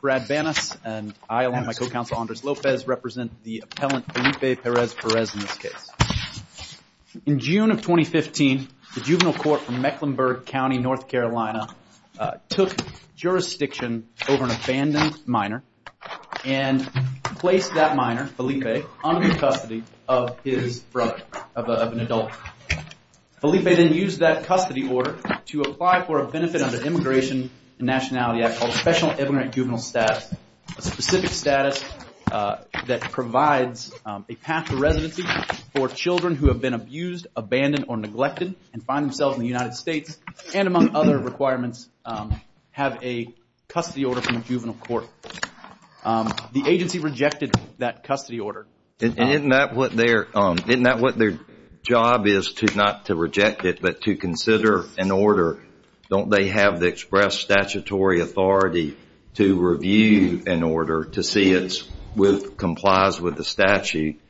Brad Bannist and Andres Lopez In June of 2015, the juvenile court from Mecklenburg County, North Carolina took jurisdiction over Felipe then used that custody order to apply for a benefit under Immigration and Nationality Act called Special Immigrant Juvenile Status, a specific status that provides a path of residency for children who have been abused, abandoned, or neglected and find themselves in the United States, and among other requirements, have a custody order from a juvenile court. The agency rejected that custody order. Isn't that what their job is, not to reject it, but to consider an order? Don't they have the express statutory authority to review an order to see if it complies with the statute?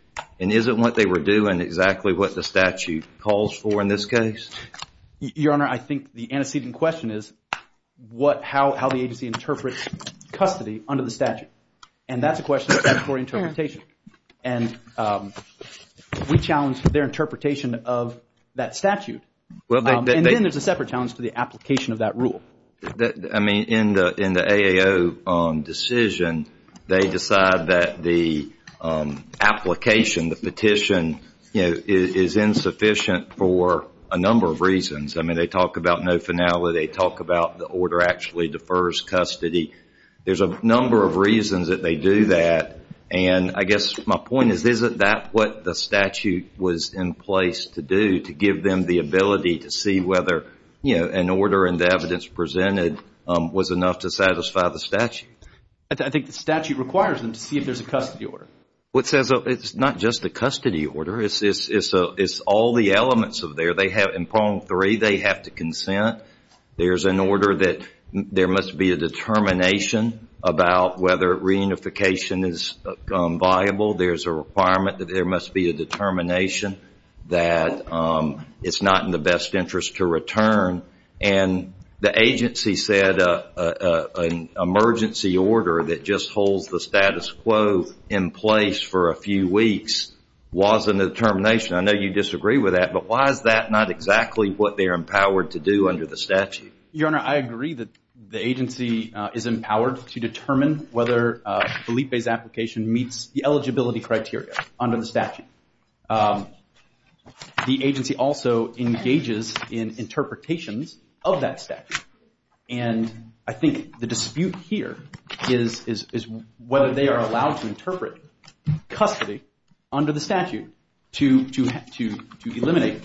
And isn't what they were doing exactly what the statute calls for in this case? Your Honor, I think the antecedent question is how the agency interprets custody under the statute. And that's a question of statutory interpretation. And we challenge their interpretation of that statute. And then there's a separate challenge to the application of that rule. I mean, in the AAO decision, they decide that the application, the petition, is insufficient for a number of reasons. I mean, they talk about no finality. They talk about the order actually defers custody. There's a number of reasons that they do that. And I guess my point is, isn't that what the statute was in place to do, to give them the ability to see whether an order and the evidence presented was enough to satisfy the statute? I think the statute requires them to see if there's a custody order. Well, it's not just a custody order. It's all the elements of there. In Prong 3, they have to consent. There's an order that there must be a determination about whether reunification is viable. There's a requirement that there must be a determination that it's not in the best interest to return. And the agency said an emergency order that just holds the status quo in place for a few weeks wasn't a determination. I know you disagree with that, but why is that not exactly what they're empowered to do under the statute? Your Honor, I agree that the agency is empowered to determine whether Felipe's application meets the eligibility criteria under the statute. And the agency also engages in interpretations of that statute. And I think the dispute here is whether they are allowed to interpret custody under the statute to eliminate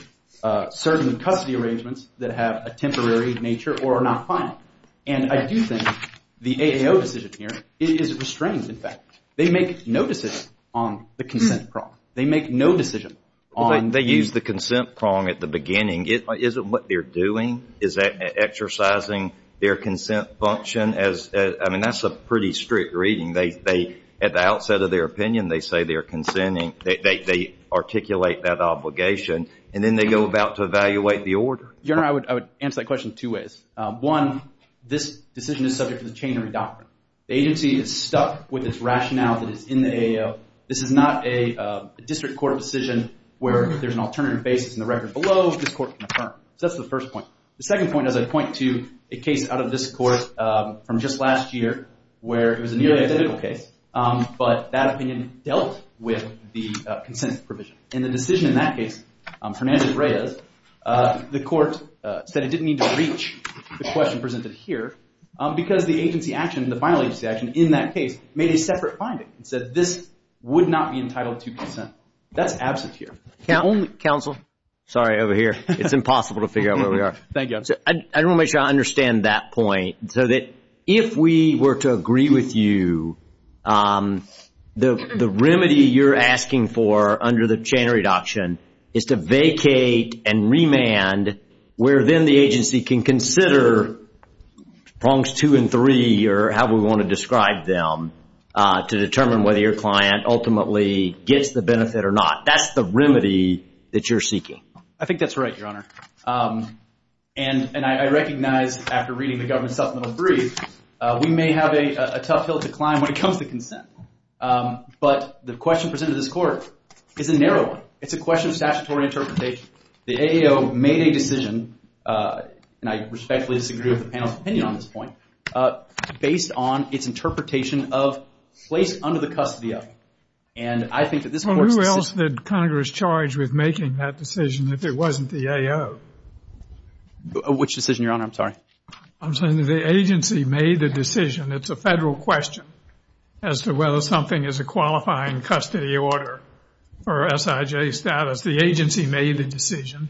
certain custody arrangements that have a temporary nature or are not final. And I do think the AAO decision here is restrained, in fact. They make no decision on the consent prong. They make no decision on – They use the consent prong at the beginning. Is it what they're doing? Is that exercising their consent function? I mean, that's a pretty strict reading. At the outset of their opinion, they say they're consenting. They articulate that obligation, and then they go about to evaluate the order. Your Honor, I would answer that question two ways. One, this decision is subject to the chain of doctrine. The agency is stuck with this rationale that is in the AAO. This is not a district court decision where if there's an alternative basis in the record below, this court can affirm. So that's the first point. The second point is a point to a case out of this course from just last year where it was a nearly identical case, but that opinion dealt with the consent provision. In the decision in that case, Fernandez-Reyes, the court said it didn't need to reach the question presented here because the agency action, the final agency action in that case made a separate finding. It said this would not be entitled to consent. That's absent here. Counsel? Sorry, over here. It's impossible to figure out where we are. Thank you. I want to make sure I understand that point, so that if we were to agree with you, the remedy you're asking for under the chain of reduction is to vacate and remand, where then the agency can consider prongs two and three, or however we want to describe them, to determine whether your client ultimately gets the benefit or not. That's the remedy that you're seeking. I think that's right, Your Honor. And I recognize, after reading the government supplemental brief, we may have a tough hill to climb when it comes to consent. But the question presented to this court is a narrow one. It's a question of statutory interpretation. The AEO made a decision, and I respectfully disagree with the panel's opinion on this point, based on its interpretation of place under the custody of. Who else did Congress charge with making that decision if it wasn't the AEO? Which decision, Your Honor? I'm sorry. I'm saying that the agency made the decision. It's a federal question as to whether something is a qualifying custody order or SIJ status. The agency made the decision.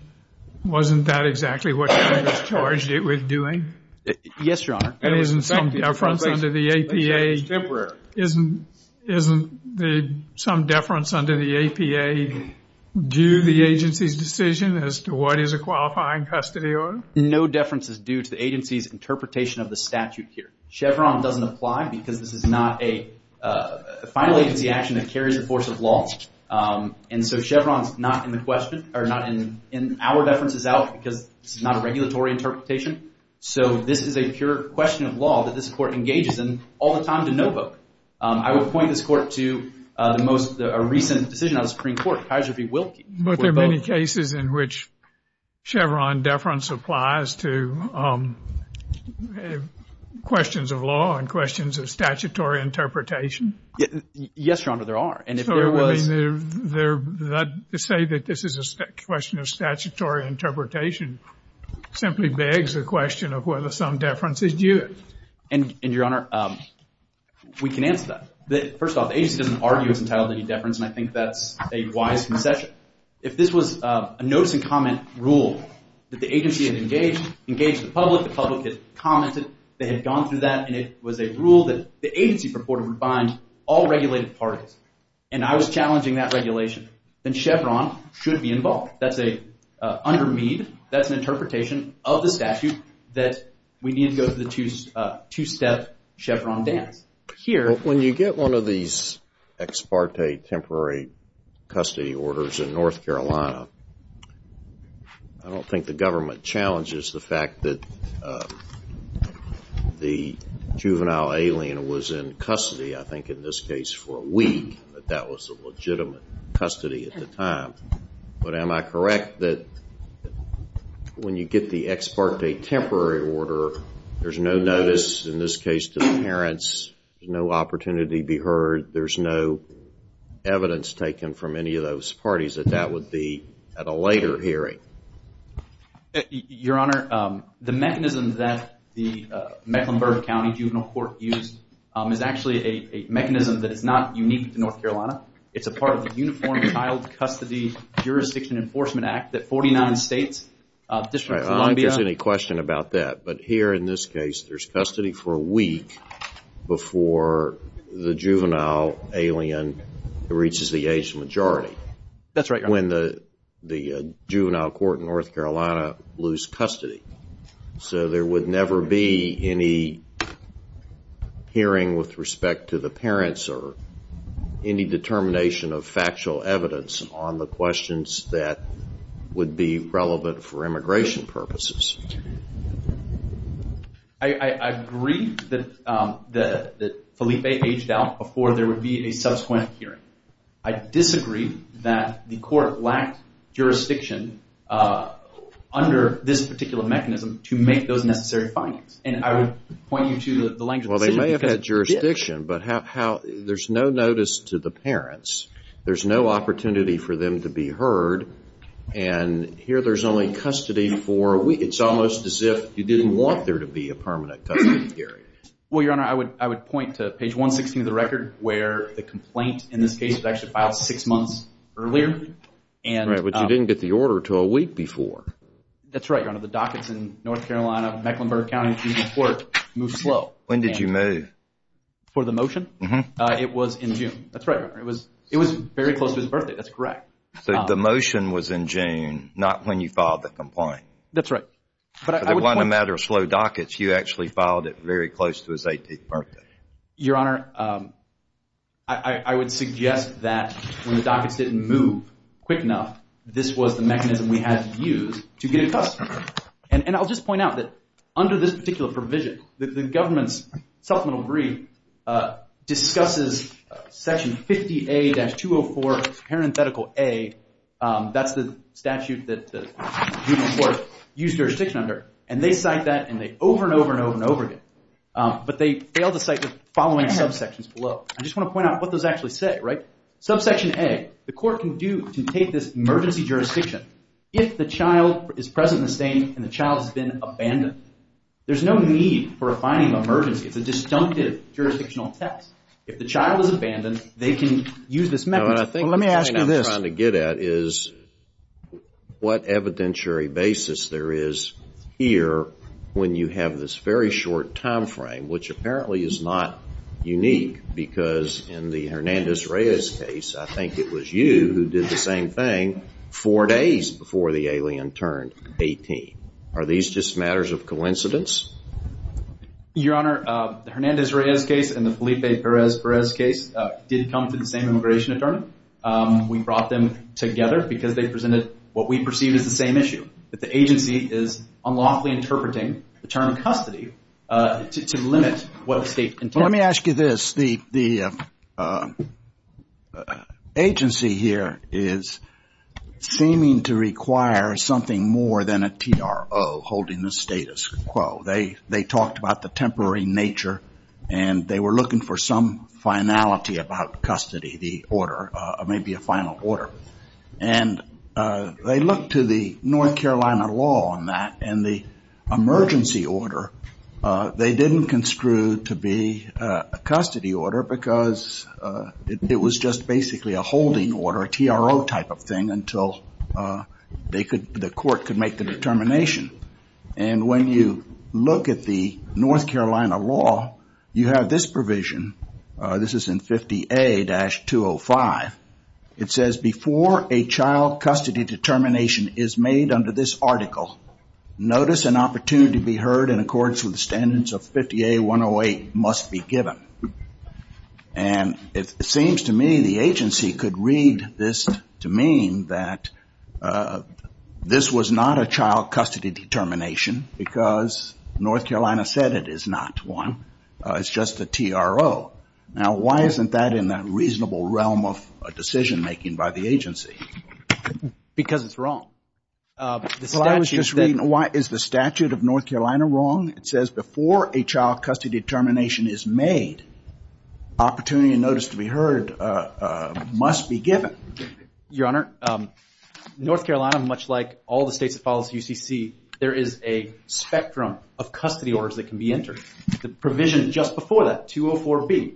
Wasn't that exactly what Congress charged it with doing? Yes, Your Honor. Isn't there some deference under the APA due to the agency's decision as to what is a qualifying custody order? No deference is due to the agency's interpretation of the statute here. Chevron doesn't apply because this is not a final agency action a carrier force has lost. And so Chevron is not in the question, or not in our deference is out, because this is not a regulatory interpretation. So this is a pure question of law that this court engages in all the time to know both. I would point this court to the most recent decision of the Supreme Court, Kaiser v. Wilkie. But there are many cases in which Chevron deference applies to questions of law and questions of statutory interpretation. Yes, Your Honor, there are. So to say that this is a question of statutory interpretation simply begs the question of whether some deference is due. And, Your Honor, we can answer that. First off, the agency doesn't argue it's entitled to any deference, and I think that's a wise concession. If this was a notice and comment rule that the agency has engaged the public, the public had commented, they had gone through that, and it was a rule that the agency purported would bind all regulated parties, and I was challenging that regulation, then Chevron should be involved. Under me, that's an interpretation of the statute that we need to go to the two-step Chevron dam. When you get one of these ex parte temporary custody orders in North Carolina, I don't think the government challenges the fact that the juvenile alien was in custody, I think in this case for a week, that that was a legitimate custody at the time. But am I correct that when you get the ex parte temporary order, there's no notice in this case to the parents, no opportunity to be heard, there's no evidence taken from any of those parties that that would be at a later hearing? Your Honor, the mechanism that the Mecklenburg County Juvenile Court used is actually a mechanism that is not unique to North Carolina. It's a part of the Uniform Child Custody Jurisdiction Enforcement Act that 49 states, District of Columbia... I don't think there's any question about that. But here in this case, there's custody for a week before the juvenile alien reaches the age majority. That's right, Your Honor. When the juvenile court in North Carolina lose custody. So there would never be any hearing with respect to the parents or any determination of factual evidence on the questions that would be relevant for immigration purposes. I agree that Felipe aged out before there would be a subsequent hearing. I disagree that the court lacked jurisdiction under this particular mechanism to make those necessary findings. And I would point you to the language... Well, they may have had jurisdiction, but there's no notice to the parents. There's no opportunity for them to be heard. And here there's only custody for a week. It's almost as if you didn't want there to be a permanent custody period. Well, Your Honor, I would point to page 116 of the record where the complaint in this case was actually filed six months earlier. Right, but you didn't get the order to a week before. That's right, Your Honor. The dockets in North Carolina, Mecklenburg County, and Cedar Fork moved slow. When did you move? For the motion? Uh-huh. It was in June. That's right, Your Honor. It was very close to his birthday. That's correct. The motion was in June, not when you filed the complaint. That's right. But on the matter of slow dockets, you actually filed it very close to his 18th birthday. Your Honor, I would suggest that when the dockets didn't move quick enough, this was the mechanism we had to use to get custody. And I'll just point out that under this particular provision, the government's supplemental brief discusses Section 50A.204, parenthetical A. That's the statute that the juvenile court used jurisdiction under. And they cite that, and they over and over and over and over again. But they failed to cite this following subsections below. I just want to point out what those actually say, right? Subsection A, the court can take this emergency jurisdiction if the child is present in the state and the child has been abandoned. There's no need for a finding of emergency. It's a disjunctive jurisdictional test. If the child is abandoned, they can use this method. Your Honor, I think what I'm trying to get at is what evidentiary basis there is here when you have this very short time frame, which apparently is not unique because in the Hernandez-Reyes case, I think it was you who did the same thing four days before the alien turned 18. Are these just matters of coincidence? Your Honor, the Hernandez-Reyes case and the Felipe Perez-Perez case did come to the same immigration attorney. We brought them together because they presented what we perceive as the same issue, that the agency is unlawfully interpreting the term custody to limit what the state can do. Let me ask you this. The agency here is seeming to require something more than a TRO holding the status quo. They talked about the temporary nature and they were looking for some finality about custody, the order, maybe a final order. And they looked to the North Carolina law on that and the emergency order, they didn't construe to be a custody order because it was just basically a holding order, a TRO type of thing until the court could make the determination. And when you look at the North Carolina law, you have this provision. This is in 50A-205. It says, before a child custody determination is made under this article, notice an opportunity to be heard in accordance with the standards of 50A-108 must be given. And it seems to me the agency could read this to mean that this was not a child custody determination because North Carolina said it is not one. It's just a TRO. Now, why isn't that in the reasonable realm of decision making by the agency? Because it's wrong. Is the statute of North Carolina wrong? It says, before a child custody determination is made, opportunity and notice to be heard must be given. Your Honor, North Carolina, much like all the states that follow the CCC, there is a spectrum of custody orders that can be entered. The provision just before that, 204B,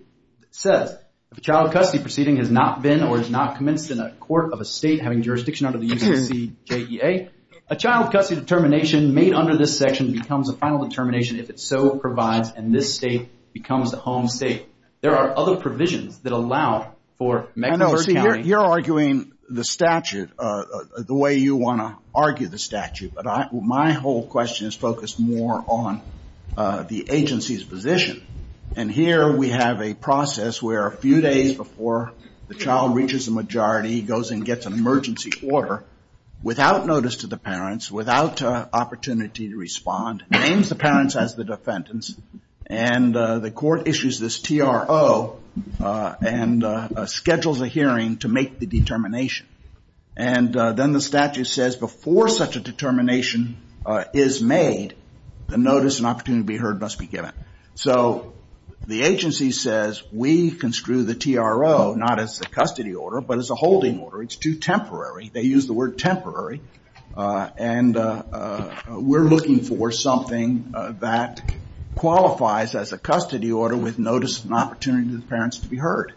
says, if a child custody proceeding has not been or is not commenced in a court of a state having jurisdiction under the UCCJDA, a child custody determination made under this section becomes a final determination if it's so provided and this state becomes the home state. There are other provisions that allow for Mecklenburg County- I know, see, you're arguing the statute the way you want to argue the statute, but my whole question is focused more on the agency's position. And here we have a process where a few days before the child reaches the majority, goes and gets an emergency order without notice to the parents, without opportunity to respond, names the parents as the defendants, and the court issues this TRO and schedules a hearing to make the determination. And then the statute says, before such a determination is made, a notice and opportunity to be heard must be given. So the agency says, we can screw the TRO, not as a custody order, but as a holding order. It's too temporary. They use the word temporary. And we're looking for something that qualifies as a custody order with notice and opportunity to the parents to be heard.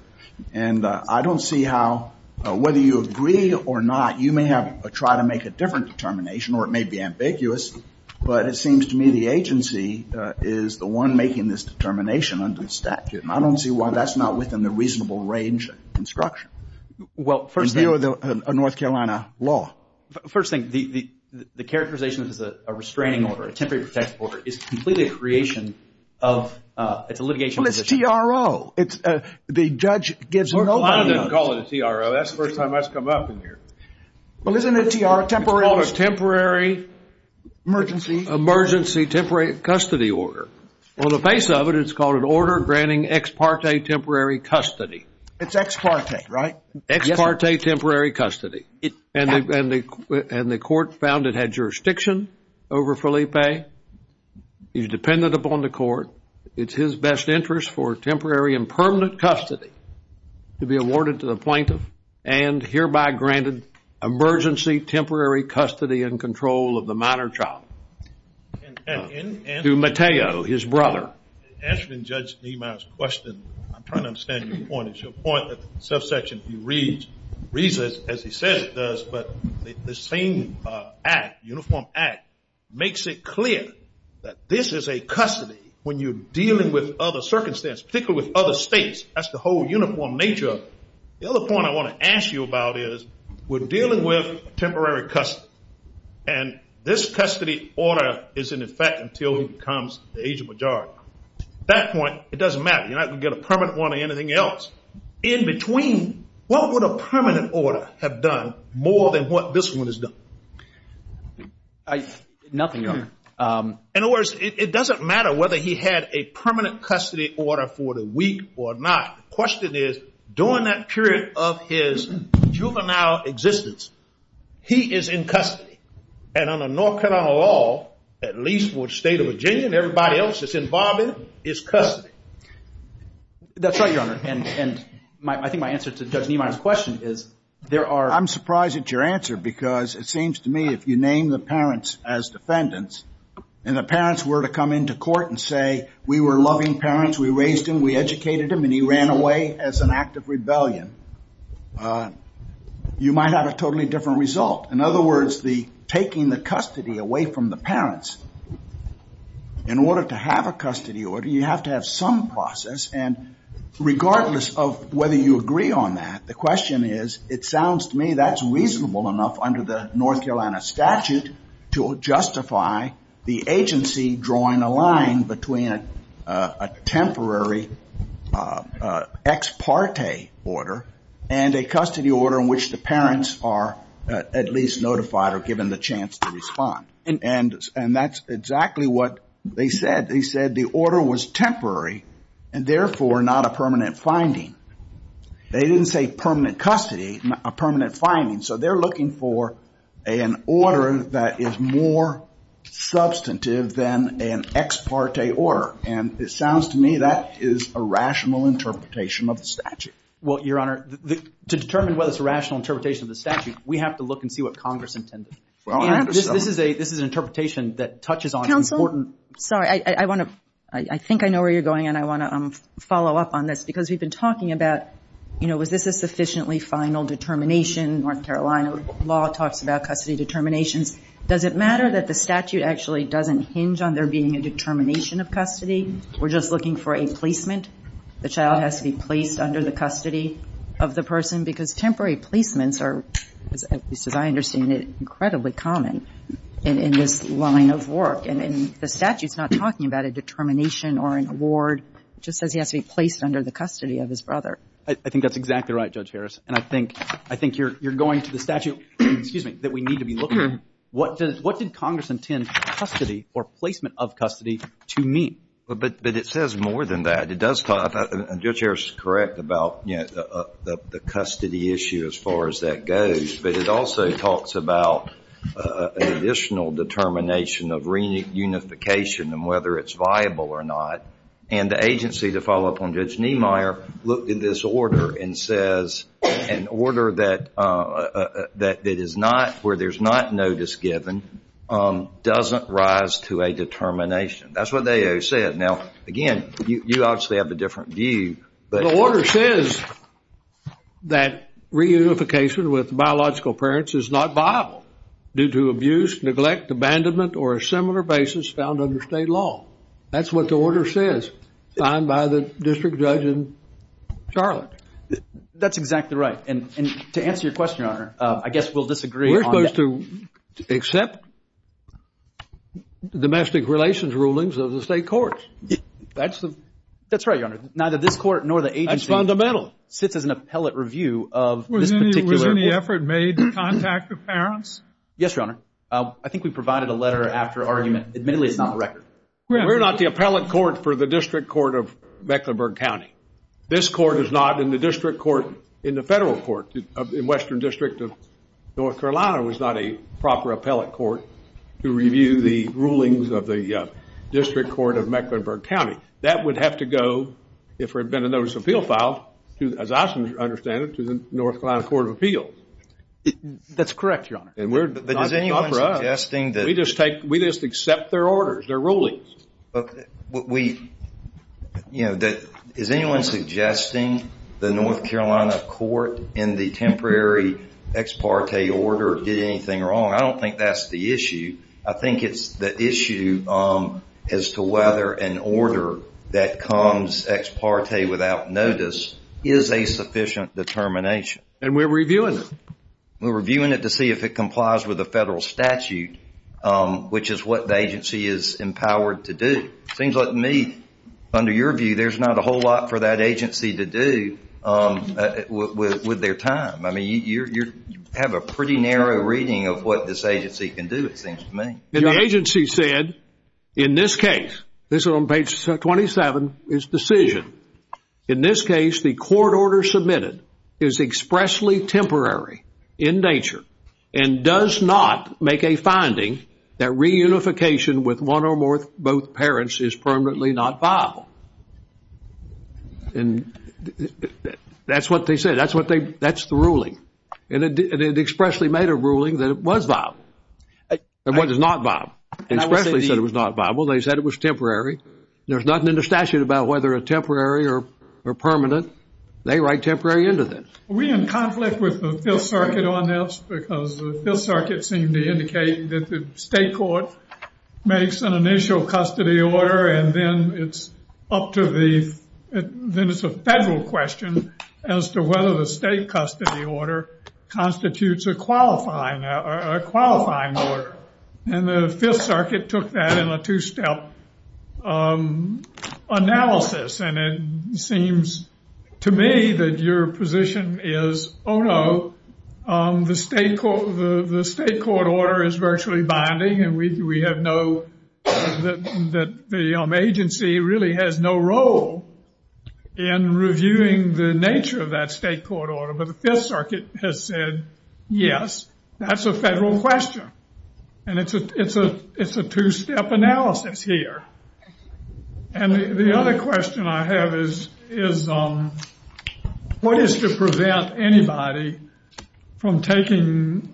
And I don't see how, whether you agree or not, you may try to make a different determination or it may be ambiguous, but it seems to me the agency is the one making this determination under the statute. And I don't see why that's not within the reasonable range of instruction in view of a North Carolina law. First thing, the characterization of a restraining order, a temporary protection order, is completely a creation of litigation. Well, it's TRO. The judge gives notice. I don't call it a TRO. That's the first time I've come up in here. Well, isn't a TRO temporary? It's called a temporary emergency temporary custody order. On the face of it, it's called an order granting ex parte temporary custody. It's ex parte, right? Ex parte temporary custody. And the court found it had jurisdiction over Felipe. He's dependent upon the court. It's his best interest for temporary and permanent custody to be awarded to the plaintiff and hereby granted emergency temporary custody and control of the minor child to Mateo, his brother. Answering Judge Niemeyer's question, I'm trying to understand your point. It's your point that the subsection reads as he says it does, but the same act, uniform act, makes it clear that this is a custody when you're dealing with other circumstances, particularly with other states. That's the whole uniform nature of it. The other point I want to ask you about is we're dealing with temporary custody, and this custody order is in effect until he becomes the agent majority. At that point, it doesn't matter. You're not going to get a permanent one or anything else. In between, what would a permanent order have done more than what this one has done? Nothing, Your Honor. In other words, it doesn't matter whether he had a permanent custody order for the week or not. The question is during that period of his juvenile existence, he is in custody, and under North Carolina law, at least for the state of Virginia and everybody else that's involved in it, is custody. That's right, Your Honor, and I think my answer to Judge Niemeyer's question is there are— I'm surprised it's your answer because it seems to me if you name the parents as defendants and the parents were to come into court and say, we were loving parents, we raised him, we educated him, and he ran away as an act of rebellion, you might have a totally different result. In other words, taking the custody away from the parents in order to have a custody order, you have to have some process, and regardless of whether you agree on that, the question is it sounds to me that's reasonable enough under the North Carolina statute to justify the agency drawing a line between a temporary ex parte order and a custody order in which the parents are at least notified or given the chance to respond. And that's exactly what they said. They said the order was temporary and therefore not a permanent finding. They didn't say permanent custody, a permanent finding. So they're looking for an order that is more substantive than an ex parte order, and it sounds to me that is a rational interpretation of the statute. Well, Your Honor, to determine whether it's a rational interpretation of the statute, we have to look and see what Congress intended. This is an interpretation that touches on important— Counsel, sorry, I want to—I think I know where you're going, and I want to follow up on this because we've been talking about, you know, is this a sufficiently final determination? North Carolina law talks about custody determination. Does it matter that the statute actually doesn't hinge on there being a determination of custody? We're just looking for a placement. The child has to be placed under the custody of the person because temporary placements are, at least as I understand it, incredibly common in this line of work. And the statute's not talking about a determination or an award. It just says he has to be placed under the custody of his brother. I think that's exactly right, Judge Harris, and I think you're going to the statute that we need to be looking at. What did Congress intend custody or placement of custody to mean? But it says more than that. Judge Harris is correct about the custody issue as far as that goes, but it also talks about an additional determination of reunification and whether it's viable or not. And the agency, to follow up on Judge Niemeyer, looked at this order and says an order that is not— where there's not notice given doesn't rise to a determination. That's what they said. Now, again, you obviously have a different view. The order says that reunification with biological parents is not viable due to abuse, neglect, abandonment, or a similar basis found under state law. That's what the order says, signed by the district judge in Charlotte. That's exactly right. And to answer your question, Your Honor, I guess we'll disagree on that. We're supposed to accept domestic relations rulings of the state courts. That's right, Your Honor. Neither this court nor the agency— That's fundamental. —sits as an appellate review of this particular— Was any effort made to contact the parents? Yes, Your Honor. I think we provided a letter after argument. Admittedly, it's not on the record. We're not the appellate court for the district court of Mecklenburg County. This court is not in the district court in the federal court. The Western District of North Carolina was not a proper appellate court to review the rulings of the district court of Mecklenburg County. That would have to go, if there had been a notice of appeal filed, as I understand it, to the North Carolina Court of Appeals. That's correct, Your Honor. But is anyone suggesting that— We just accept their orders, their rulings. Is anyone suggesting the North Carolina court, in the temporary ex parte order, did anything wrong? I don't think that's the issue. I think it's the issue as to whether an order that comes ex parte without notice is a sufficient determination. And we're reviewing it. We're reviewing it to see if it complies with the federal statute, which is what the agency is empowered to do. Things like me, under your view, there's not a whole lot for that agency to do with their time. I mean, you have a pretty narrow reading of what this agency can do, it seems to me. The agency said, in this case—this is on page 27—its decision. In this case, the court order submitted is expressly temporary in nature and does not make a finding that reunification with one or both parents is permanently not viable. And that's what they said. That's the ruling. And it expressly made a ruling that it was viable. It was not viable. It expressly said it was not viable. They said it was temporary. There's nothing in the statute about whether it's temporary or permanent. They write temporary into this. We're in conflict with the Fifth Circuit on this because the Fifth Circuit seemed to indicate that the state court makes an initial custody order, and then it's up to the—then it's a federal question as to whether the state custody order constitutes a qualifying order. And the Fifth Circuit took that in a two-step analysis. And it seems to me that your position is, oh, no, the state court order is virtually binding, and we have no—that the agency really has no role in reviewing the nature of that state court order. The Fifth Circuit has said, yes, that's a federal question. And it's a two-step analysis here. And the other question I have is, what is to prevent anybody from taking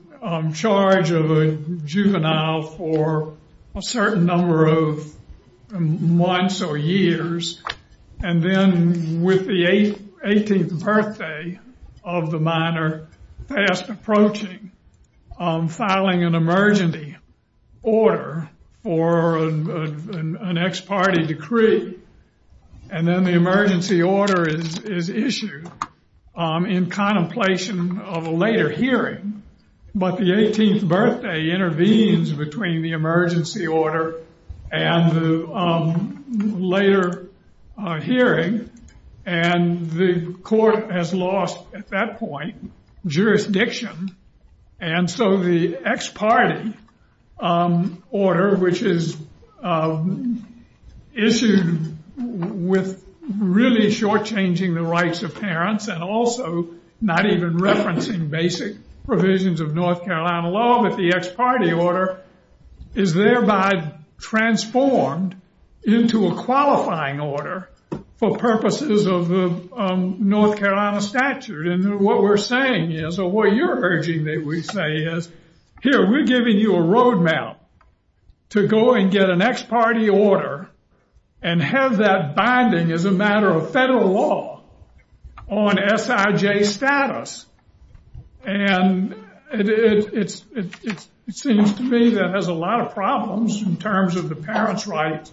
charge of a juvenile for a certain number of months or years, and then with the 18th birthday of the minor fast approaching, filing an emergency order for an ex parte decree, and then the emergency order is issued in contemplation of a later hearing, but the 18th birthday intervenes between the emergency order and the later hearing, and the court has lost, at that point, jurisdiction. And so the ex parte order, which is issued with really shortchanging the rights of parents and also not even referencing basic provisions of North Carolina law with the ex parte order, is thereby transformed into a qualifying order for purposes of the North Carolina statute. And what we're saying is, or what you're urging that we say is, here, we're giving you a roadmap to go and get an ex parte order and have that binding as a matter of federal law on SIJ status. And it seems to me that has a lot of problems in terms of the parents' rights,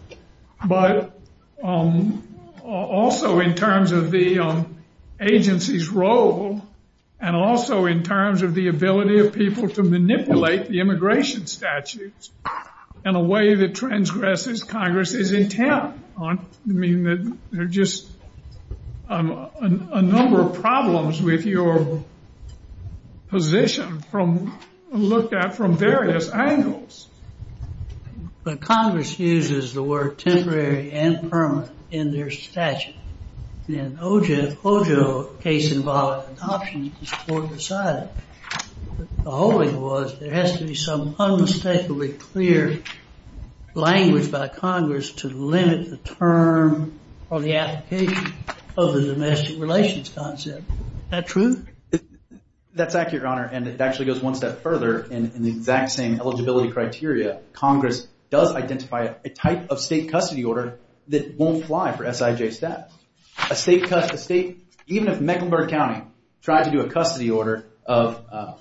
but also in terms of the agency's role, and also in terms of the ability of people to manipulate the immigration statutes in a way that transgresses Congress's intent. I mean, there are just a number of problems with your position from, looked at from various angles. But Congress uses the word temporary and permanent in their statute, and OJO case involved an option to support the side. The whole thing was, there has to be some unmistakably clear language by Congress to limit the term or the application of the domestic relations concept. Is that true? That's accurate, Your Honor, and it actually goes one step further in the exact same eligibility criteria. Congress does identify a type of state custody order that won't fly for SIJ status. Even if Mecklenburg County tried to do a custody order of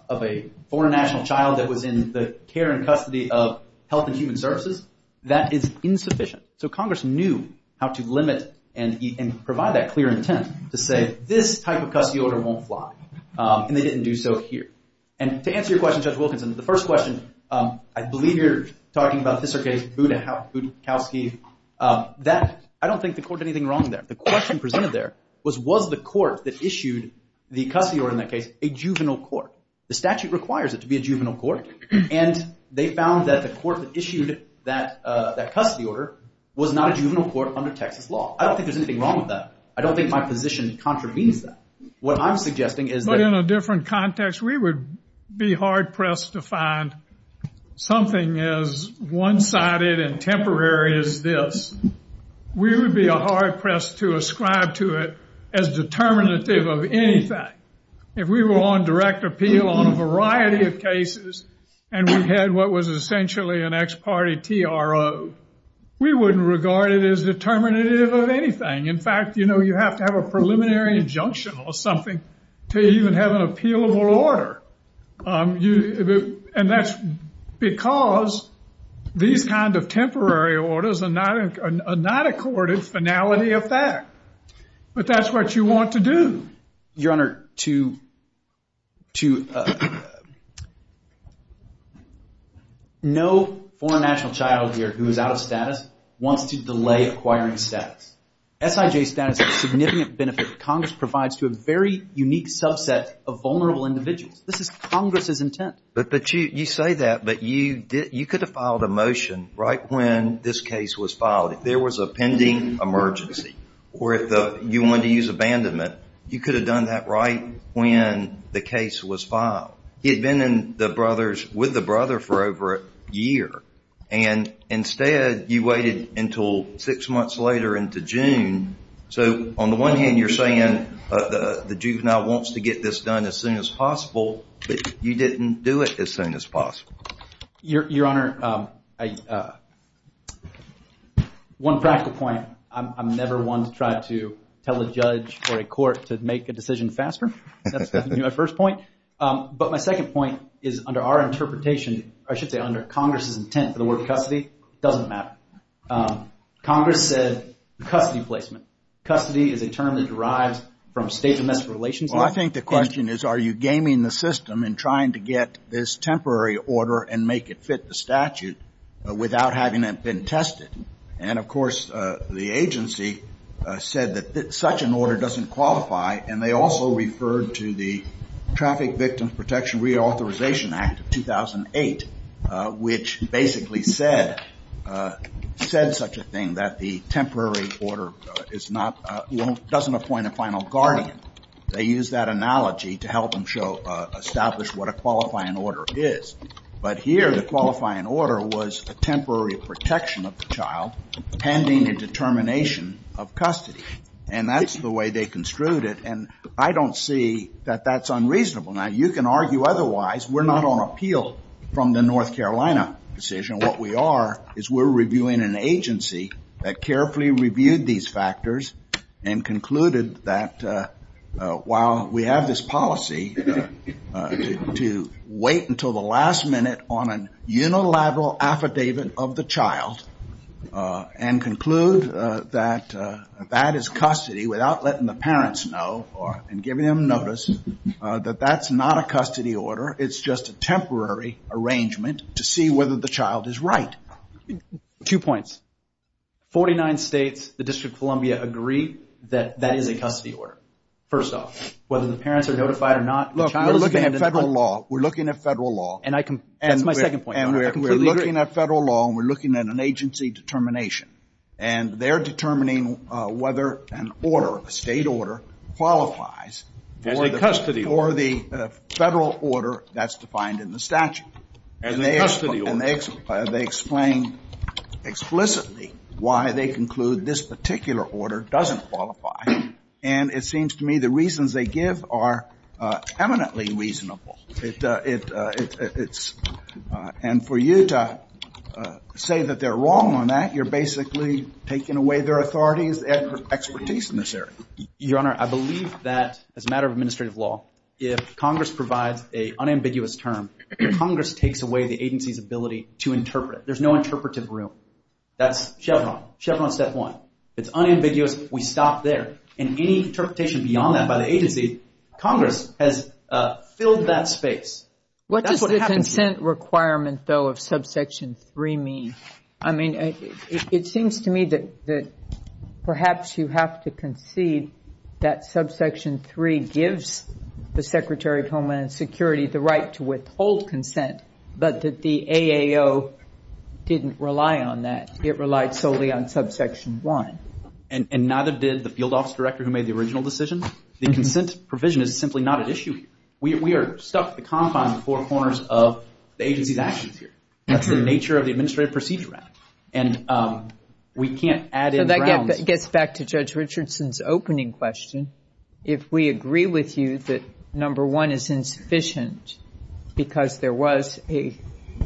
a foreign national child that was in the care and custody of Health and Human Services, that is insufficient. So Congress knew how to limit and provide that clear intent to say, this type of custody order won't fly, and they didn't do so here. And to answer your question, Judge Wilkinson, the first question, I believe you're talking about Siser case, Budakowski. I don't think the court did anything wrong there. The question presented there was, was the court that issued the custody order in that case a juvenile court? The statute requires it to be a juvenile court, and they found that the court that issued that custody order was not a juvenile court under Texas law. I don't think there's anything wrong with that. I don't think my position contravenes that. What I'm suggesting is that— But in a different context, we would be hard-pressed to find something as one-sided and temporary as this. We would be hard-pressed to ascribe to it as determinative of anything. If we were on direct appeal on a variety of cases, and we had what was essentially an ex parte TRO, we wouldn't regard it as determinative of anything. In fact, you have to have a preliminary injunction or something to even have an appealable order. And that's because these kinds of temporary orders are not accorded finality of fact. But that's what you want to do. Your Honor, to— No foreign national child here who is out of status wants to delay acquiring status. SIJ status is a significant benefit Congress provides to a very unique subset of vulnerable individuals. This is Congress's intent. But you say that, but you could have filed a motion right when this case was filed. If there was a pending emergency, or if you wanted to use abandonment, you could have done that right when the case was filed. He had been with the brother for over a year. And instead, you waited until six months later into June. So, on the one hand, you're saying the juvenile wants to get this done as soon as possible, but you didn't do it as soon as possible. Your Honor, one practical point. I'm never one to try to tell a judge or a court to make a decision faster. That's definitely my first point. But my second point is under our interpretation, or I should say under Congress's intent for the word custody, it doesn't matter. Congress said custody placement. Custody is a term that derives from state and national relations. Well, I think the question is, are you gaming the system in trying to get this temporary order and make it fit the statute without having it been tested? And, of course, the agency said that such an order doesn't qualify, and they also referred to the Traffic Victim Protection Reauthorization Act of 2008, which basically said such a thing, that the temporary order doesn't appoint a final guardian. They used that analogy to help them establish what a qualifying order is. But here, the qualifying order was a temporary protection of the child pending a determination of custody. And that's the way they construed it, and I don't see that that's unreasonable. Now, you can argue otherwise. We're not on appeal from the North Carolina decision. What we are is we're reviewing an agency that carefully reviewed these factors and concluded that while we have this policy to wait until the last minute on a unilateral affidavit of the child and conclude that that is custody without letting the parents know and giving them notice, that that's not a custody order. It's just a temporary arrangement to see whether the child is right. Two points. Forty-nine states, the District of Columbia, agree that that is a custody order, first off, whether the parents are notified or not. Look, we're looking at federal law. We're looking at federal law. That's my second point. And we're looking at federal law, and we're looking at an agency determination. And they're determining whether an order, a state order, qualifies for the federal order that's defined in the statute. And they explain explicitly why they conclude this particular order doesn't qualify. And it seems to me the reasons they give are eminently reasonable. And for you to say that they're wrong on that, you're basically taking away their authority and expertise in this area. Your Honor, I believe that as a matter of administrative law, if Congress provides an unambiguous term, Congress takes away the agency's ability to interpret it. There's no interpretive room. That's Chevron. Chevron's step one. It's unambiguous. We stop there. And any interpretation beyond that by the agency, Congress has filled that space. What does the consent requirement, though, of subsection 3 mean? I mean, it seems to me that perhaps you have to concede that subsection 3 gives the Secretary of Homeland Security the right to withhold consent, but that the AAO didn't rely on that. It relied solely on subsection 1. And not a bid the field office director who made the original decision? The consent provision is simply not at issue here. We are stuck at the confines of the four corners of the agency's action period. That's the nature of the administrative procedure act. And we can't add in grounds. So that gets back to Judge Richardson's opening question. If we agree with you that number 1 is insufficient because there was a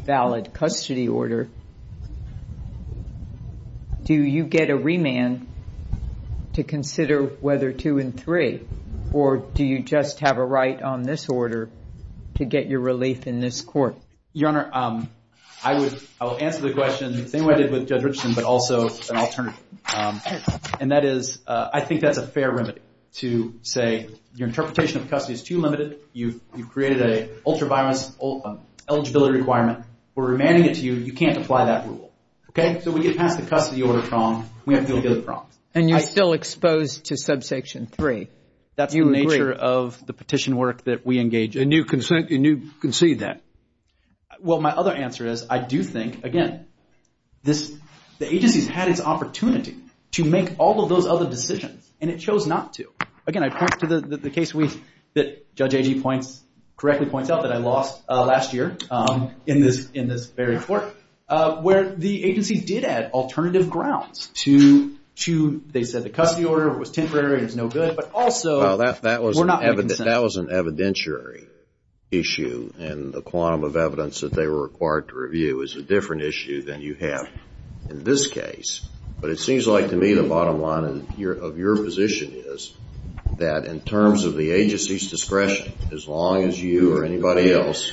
valid custody order, do you get a remand to consider whether 2 and 3? Or do you just have a right on this order to get your relief in this court? Your Honor, I will answer the question the same way I did with Judge Richardson, but also an alternative. And that is, I think that's a fair remedy to say your interpretation of custody is too limited. You've created an ultraviolence eligibility requirement. We're remanding it to you. You can't apply that rule. Okay? So we get back to the custody order problem. We have to deal with the other problem. And you're still exposed to subsection 3. That's the nature of the petition work that we engage in. And you concede that? Well, my other answer is I do think, again, the agency's had its opportunity to make all of those other decisions. And it chose not to. Again, I point to the case that Judge Agee correctly points out that I lost last year in this very court, where the agency did add alternative grounds to, they said, the custody order. It was temporary. It was no good. That was an evidentiary issue. And the quantum of evidence that they were required to review is a different issue than you have in this case. But it seems like to me the bottom line of your position is that in terms of the agency's discretion, as long as you or anybody else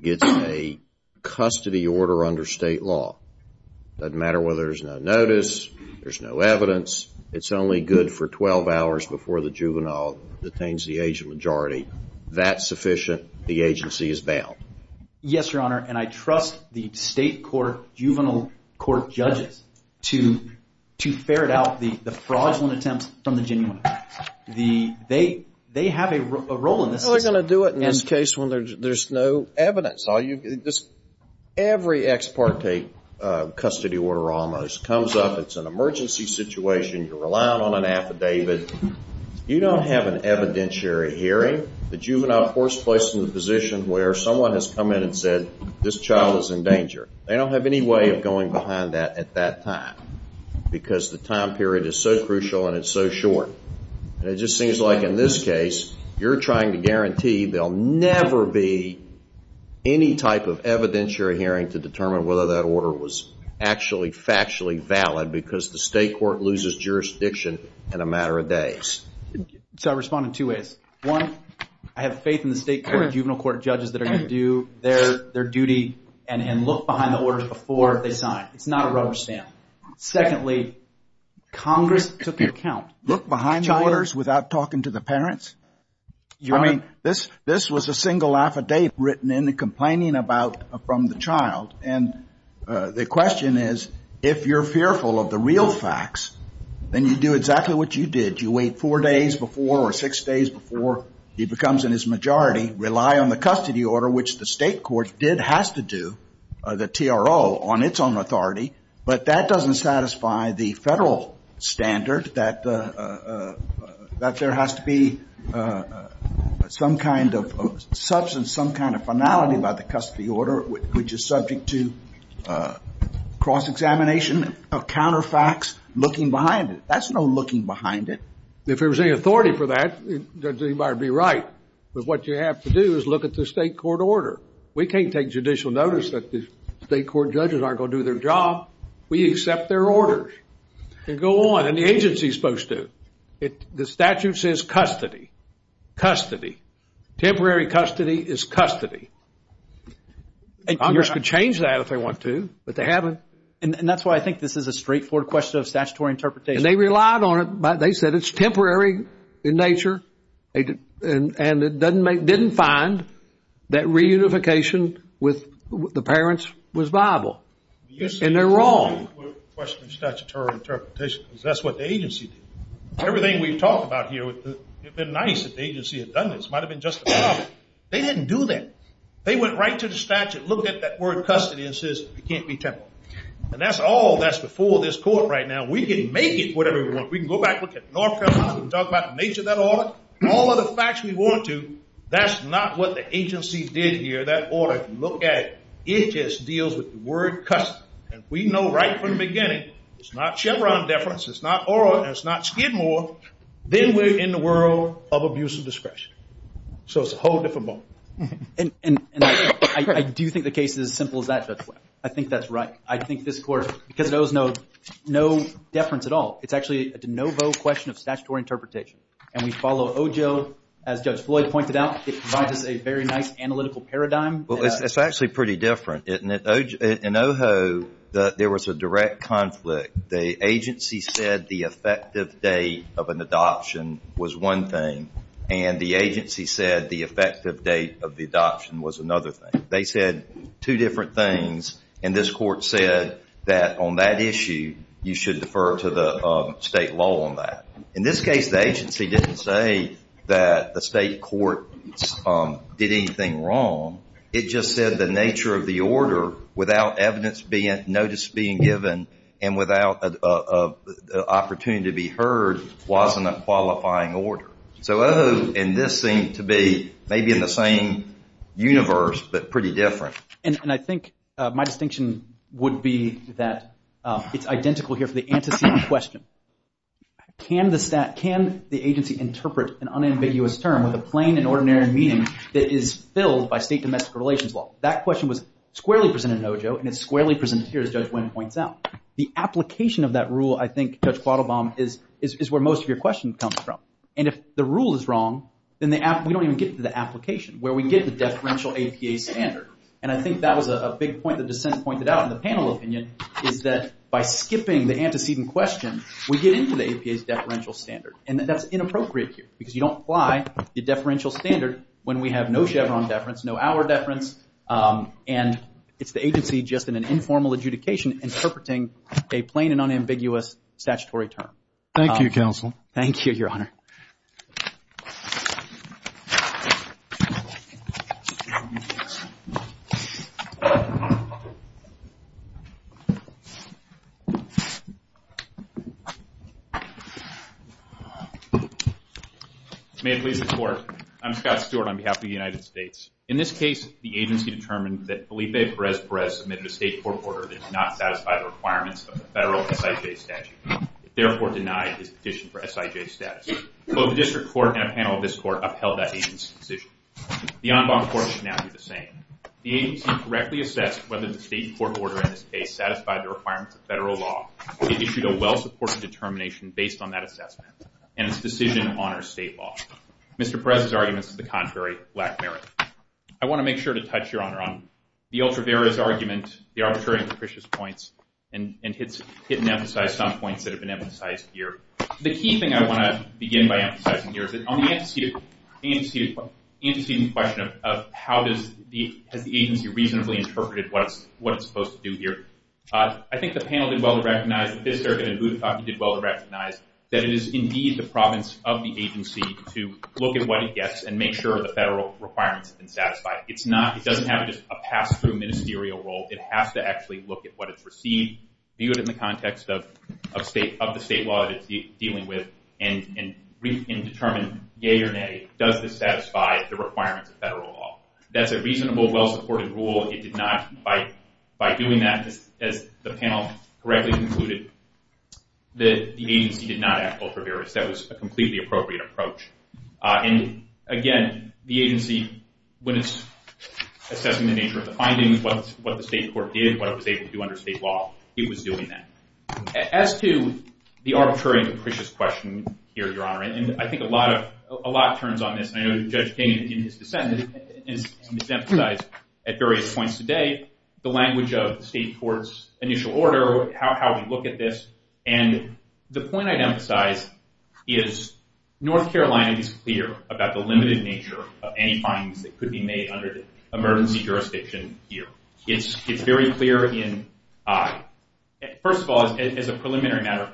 gets a custody order under state law, it doesn't matter whether there's no notice, there's no evidence, it's only good for 12 hours before the juvenile detains the age majority. That's sufficient. The agency is bound. Yes, Your Honor. And I trust the state court, juvenile court judges to ferret out the fraudulent attempts from the genuine. They have a role in this. They're going to do it in this case when there's no evidence. Every ex parte custody order almost comes up. It's an emergency situation. You're relying on an affidavit. You don't have an evidentiary hearing. The juvenile force placed in the position where someone has come in and said, this child is in danger. They don't have any way of going behind that at that time because the time period is so crucial and it's so short. It just seems like in this case, you're trying to guarantee there'll never be any type of evidentiary hearing to determine whether that order was actually factually valid because the state court loses jurisdiction in a matter of days. So I respond in two ways. One, I have faith in the state juvenile court judges that are going to do their duty and look behind the orders before they sign. It's not a rubber stamp. Secondly, Congress took account. Look behind the orders without talking to the parents. I mean, this was a single affidavit written in complaining about from the child. And the question is, if you're fearful of the real facts, then you do exactly what you did. You wait four days before or six days before he becomes in his majority, rely on the custody order, which the state court did have to do, the TRO, on its own authority. But that doesn't satisfy the federal standard that there has to be some kind of substance, some kind of finality about the custody order, which is subject to cross-examination of counterfacts looking behind it. That's no looking behind it. If there was any authority for that, he might be right. But what you have to do is look at the state court order. We can't take judicial notice that the state court judges aren't going to do their job. We accept their orders. And go on. And the agency is supposed to. The statute says custody. Custody. Temporary custody is custody. Congress could change that if they want to, but they haven't. And that's why I think this is a straightforward question of statutory interpretation. And they relied on it. They said it's temporary in nature. And didn't find that reunification with the parents was viable. And they're wrong. That's what the agency did. Everything we've talked about here, it would have been nice if the agency had done this. It might have been justified. They didn't do that. They went right to the statute, looked at that word custody, and said it can't be temporary. And that's all that's before this court right now. We can make it whatever we want. We can go back and talk about the nature of that order. All of the facts we want to. That's not what the agency did here. That order, if you look at it, it just deals with the word custody. And we know right from the beginning, it's not Chevron deference. It's not oral. And it's not Skidmore. Then we're in the world of abuse of discretion. So it's a whole different ballgame. And I do think the case is as simple as that. I think that's right. I think this court, because it owes no deference at all. It's actually a de novo question of statutory interpretation. And we follow OJO. As Judge Floyd pointed out, it's a very nice analytical paradigm. Well, it's actually pretty different, isn't it? In OJO, there was a direct conflict. The agency said the effective date of an adoption was one thing. And the agency said the effective date of the adoption was another thing. They said two different things. And this court said that on that issue, you should defer to the state law on that. In this case, the agency didn't say that the state court did anything wrong. It just said the nature of the order, without notice being given and without an opportunity to be heard, wasn't a qualifying order. So OJO and this seem to be maybe in the same universe but pretty different. And I think my distinction would be that it's identical here for the antecedent question. Can the agency interpret an unambiguous term with a plain and ordinary meaning that is filled by state domestic relations law? That question was squarely presented in OJO, and it's squarely presented here, as Judge Flynn points out. The application of that rule, I think, Judge Bottlebaum, is where most of your questions come from. And if the rule is wrong, then we don't even get to the application, where we get the deferential APA standard. And I think that was a big point that the Senate pointed out in the panel opinion is that by skipping the antecedent question, we get into the APA's deferential standard. And that's inappropriate here because you don't apply the deferential standard when we have no Chevron deference, no our deference. And it's the agency just in an informal adjudication interpreting a plain and unambiguous statutory term. Thank you, Counsel. Thank you, Your Honor. May it please the Court, I'm Scott Stewart on behalf of the United States. In this case, the agency determined that Felipe Perez Perez submitted a state court order that did not satisfy the requirements of the federal SIJ statute. It therefore denied his petition for SIJ status. Both the district court and a panel of this court upheld that agency's decision. The en banc court should now do the same. The agency correctly assessed whether the state court order in this case satisfied the requirements of federal law and issued a well-supported determination based on that assessment. And its decision honors state law. Mr. Perez's argument is the contrary, Blackberry. I want to make sure to touch, Your Honor, on the ultra-various arguments, the arbitrary and capricious points, and hit and emphasize some points that have been emphasized here. The key thing I want to begin by emphasizing here is that on the antecedent question of how does the agency reasonably interpret what it's supposed to do here, I think the panel did well to recognize that it is indeed the province of the agency to look at what it gets and make sure the federal requirements have been satisfied. It doesn't have just a pass-through ministerial role. It has to actually look at what it's received, view it in the context of the state law it is dealing with, and determine, yay or nay, does this satisfy the requirements of federal law. That's a reasonable, well-supported rule. It did not, by doing that, as the panel correctly concluded, that the agency did not have ultra-various. That was a completely appropriate approach. And, again, the agency, when it's assessing the nature of the findings, what the state court did, what it was able to do under state law, it was doing that. As to the arbitrary and capricious question here, Your Honor, and I think a lot turns on this, and I know Judge Kaine, in his dissent, has emphasized at various points today the language of the state court's initial order, how we look at this. And the point I'd emphasize is North Carolina is clear about the limited nature of any findings that could be made under emergency jurisdiction here. It's very clear in I. First of all, as a preliminary matter,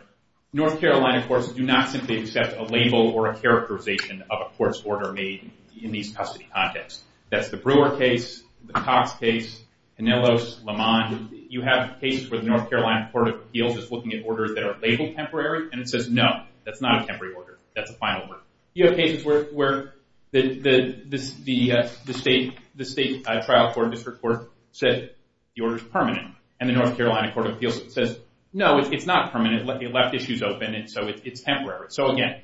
North Carolina courts do not simply accept a label or a characterization of a court's order made in these custody contexts. That's the Brewer case, the Topp case, Canellos, Lamont. You have cases where the North Carolina Court of Appeals is looking at orders that are labeled temporary, and it says, no, that's not a temporary order. That's a final order. You have cases where the state trial court, district court, says the order is permanent, and the North Carolina Court of Appeals says, no, it's not permanent. It left issues open, and so it's temporary. So, again,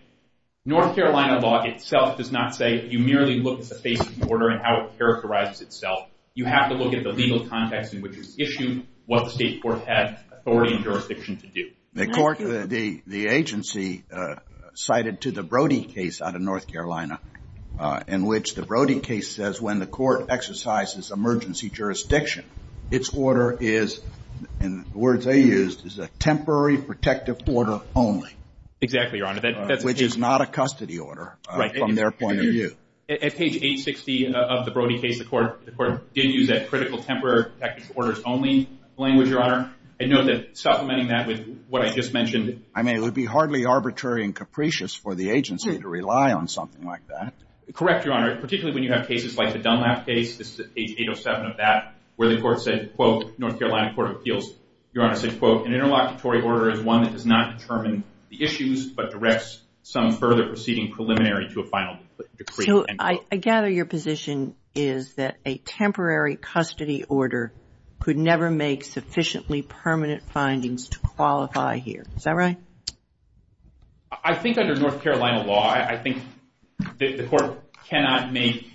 North Carolina law itself does not say that you merely look at the state's order and how it characterizes itself. You have to look at the legal context in which it's issued, what the state court has authority and jurisdiction to do. The agency cited to the Brody case out of North Carolina in which the Brody case says when the court exercises emergency jurisdiction, its order is, in the words they used, is a temporary protective order only. Exactly, Your Honor. At page 860 of the Brody case, the court gives you that critical temporary protective orders only language, Your Honor. I know that supplementing that with what I just mentioned. I mean, it would be hardly arbitrary and capricious for the agency to rely on something like that. Correct, Your Honor. Particularly when you have cases like the Dunlap case, this is page 807 of that, where the court said, quote, North Carolina Court of Appeals, Your Honor, said, quote, an interlocutory order is one that does not determine the issues but directs some further proceeding preliminary to a final decree. So I gather your position is that a temporary custody order could never make sufficiently permanent findings to qualify here. Is that right? I think under North Carolina law, I think the court cannot make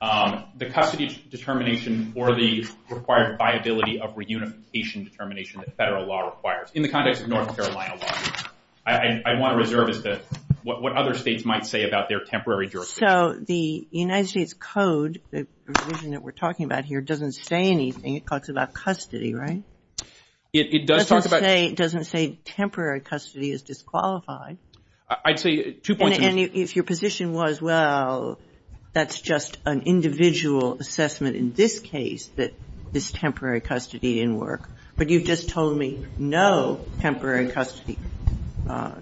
the custody determination or the required viability of reunification determination that federal law requires. In the context of North Carolina law, I want to reserve it to what other states might say about their temporary jurisdiction. So the United States Code, the provision that we're talking about here, doesn't say anything. It talks about custody, right? It does talk about – It doesn't say temporary custody is disqualified. I'd say 2.2 – that this temporary custody didn't work. But you just told me no temporary custody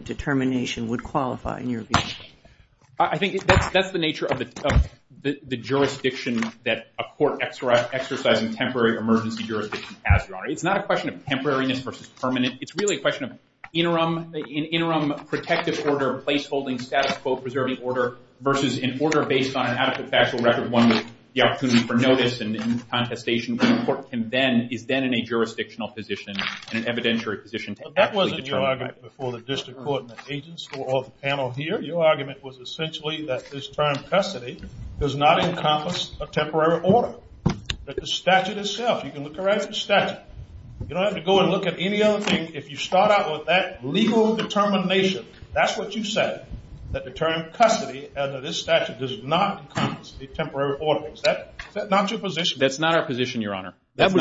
determination would qualify in your view. I think that's the nature of the jurisdiction that a court exercising temporary emergency jurisdiction has, Your Honor. It's not a question of temporariness versus permanent. It's really a question of an interim protective order, a placeholding status, quote, preserving order, versus an order based on an adequate factual record, one with the opportunity for notice and contestation. The court is then in a jurisdictional position and an evidentiary position. That wasn't your argument before the district court and the agents for all the panel here. Your argument was essentially that this term, custody, does not encompass a temporary order. It's the statute itself. You can look around at the statute. You don't have to go and look at any other thing. If you start out with that legal determination, that's what you said, that the term custody under this statute does not encompass a temporary order. Is that not your position? That's not our position, Your Honor. That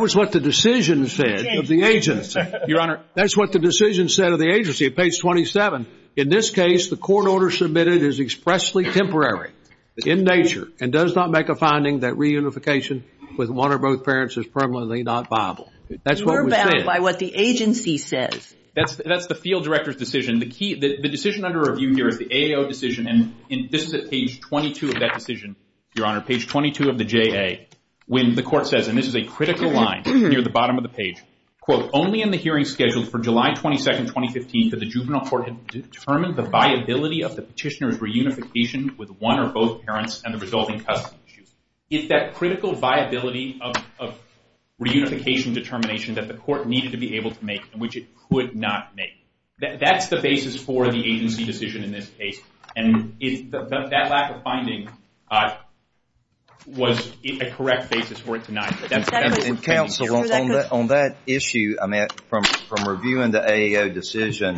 was what the decision said of the agency. Your Honor, that's what the decision said of the agency at page 27. In this case, the court order submitted is expressly temporary in nature and does not make a finding that reunification with one or both parents is permanently not viable. That's what was said. You're bound by what the agency says. That's the field director's decision. The decision under review here, the AO decision, and this is at page 22 of that decision, Your Honor, page 22 of the JA, when the court says, and this is a critical line near the bottom of the page, quote, only in the hearing scheduled for July 22, 2015, does the juvenile court determine the viability of the petitioner's reunification with one or both parents and the resulting custody issues. It's that critical viability of reunification determination that the court needed to be able to make and which it could not make. That's the basis for the agency decision in this case, and that lack of finding was a correct basis for it to not exist. Counsel, on that issue, I mean, from reviewing the AO decision,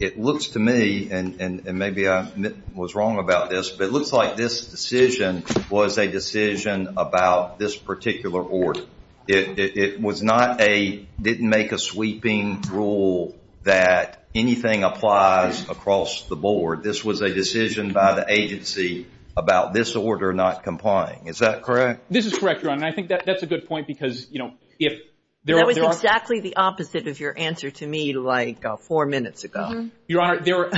it looks to me, and maybe I was wrong about this, but it looks like this decision was a decision about this particular order. It was not a didn't make a sweeping rule that anything applies across the board. This was a decision by the agency about this order not complying. Is that correct? This is correct, Your Honor, and I think that's a good point because, you know, if there are That was exactly the opposite of your answer to me like four minutes ago. Your Honor, there are,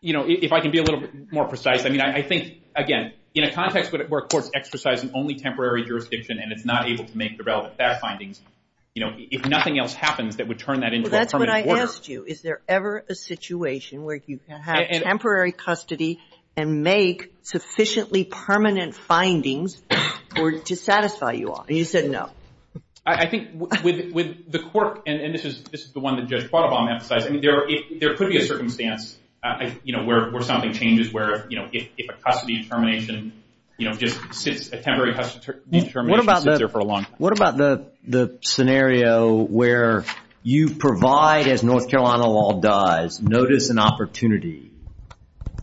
you know, if I can be a little more precise, I mean, I think, again, in a context where a court's exercising only temporary jurisdiction and it's not able to make the relevant fact findings, you know, if nothing else happens that would turn that into a permanent order. Well, that's what I asked you. Is there ever a situation where you can have temporary custody and make sufficiently permanent findings to satisfy you off? And you said no. I think with the court, and this is the one that Judge Quattlebaum emphasized, I mean, there could be a circumstance, you know, where something changes, where, you know, if a custody is permanent, you know, just a temporary custody is permanent. What about the scenario where you provide, as North Carolina law does, notice and opportunity,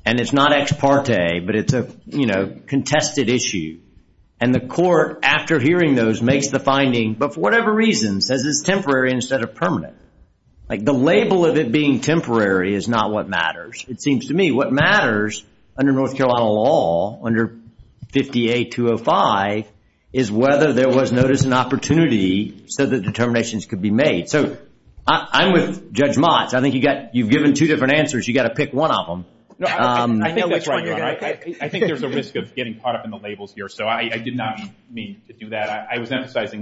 and it's not ex parte, but it's a, you know, contested issue, and the court, after hearing those, makes the finding, but for whatever reason, says it's temporary instead of permanent. Like the label of it being temporary is not what matters. It seems to me what matters under North Carolina law, under 50A205, is whether there was notice and opportunity so that determinations could be made. So I'm with Judge Motz. I think you've given two different answers. You've got to pick one of them. I think there's a risk of getting caught up in the labels here, so I did not mean to do that.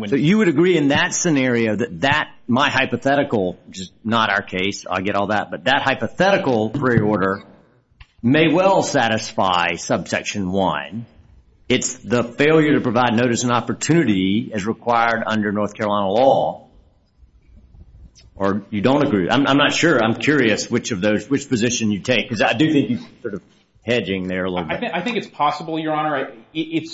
So you would agree in that scenario that my hypothetical, which is not our case, I get all that, but that hypothetical preorder may well satisfy subsection one. It's the failure to provide notice and opportunity as required under North Carolina law. Or you don't agree. I'm not sure. I'm curious which position you take, because I do think he's sort of hedging there a little bit. I think it's possible, Your Honor. Your Honor,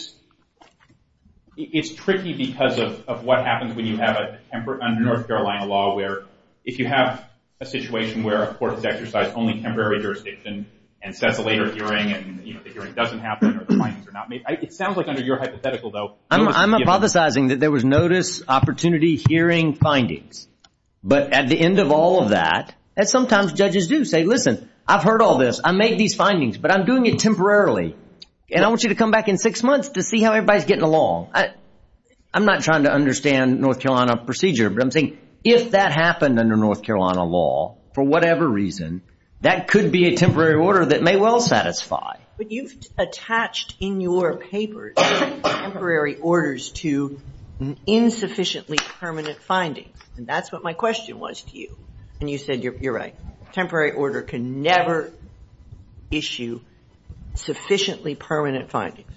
it's tricky because of what happens when you have a temporary under North Carolina law where if you have a situation where a court has exercised only temporary jurisdiction and sets a later hearing and the hearing doesn't happen or the findings are not made. It sounds like under your hypothetical, though. I'm hypothesizing that there was notice, opportunity, hearing, findings. But at the end of all of that, and sometimes judges do say, listen, I've heard all this. I made these findings, but I'm doing it temporarily. And I want you to come back in six months to see how everybody's getting along. I'm not trying to understand North Carolina procedure, but I'm thinking if that happened under North Carolina law for whatever reason, that could be a temporary order that may well satisfy. But you've attached in your paper temporary orders to insufficiently permanent findings. And that's what my question was to you. And you said you're right. Temporary order can never issue sufficiently permanent findings.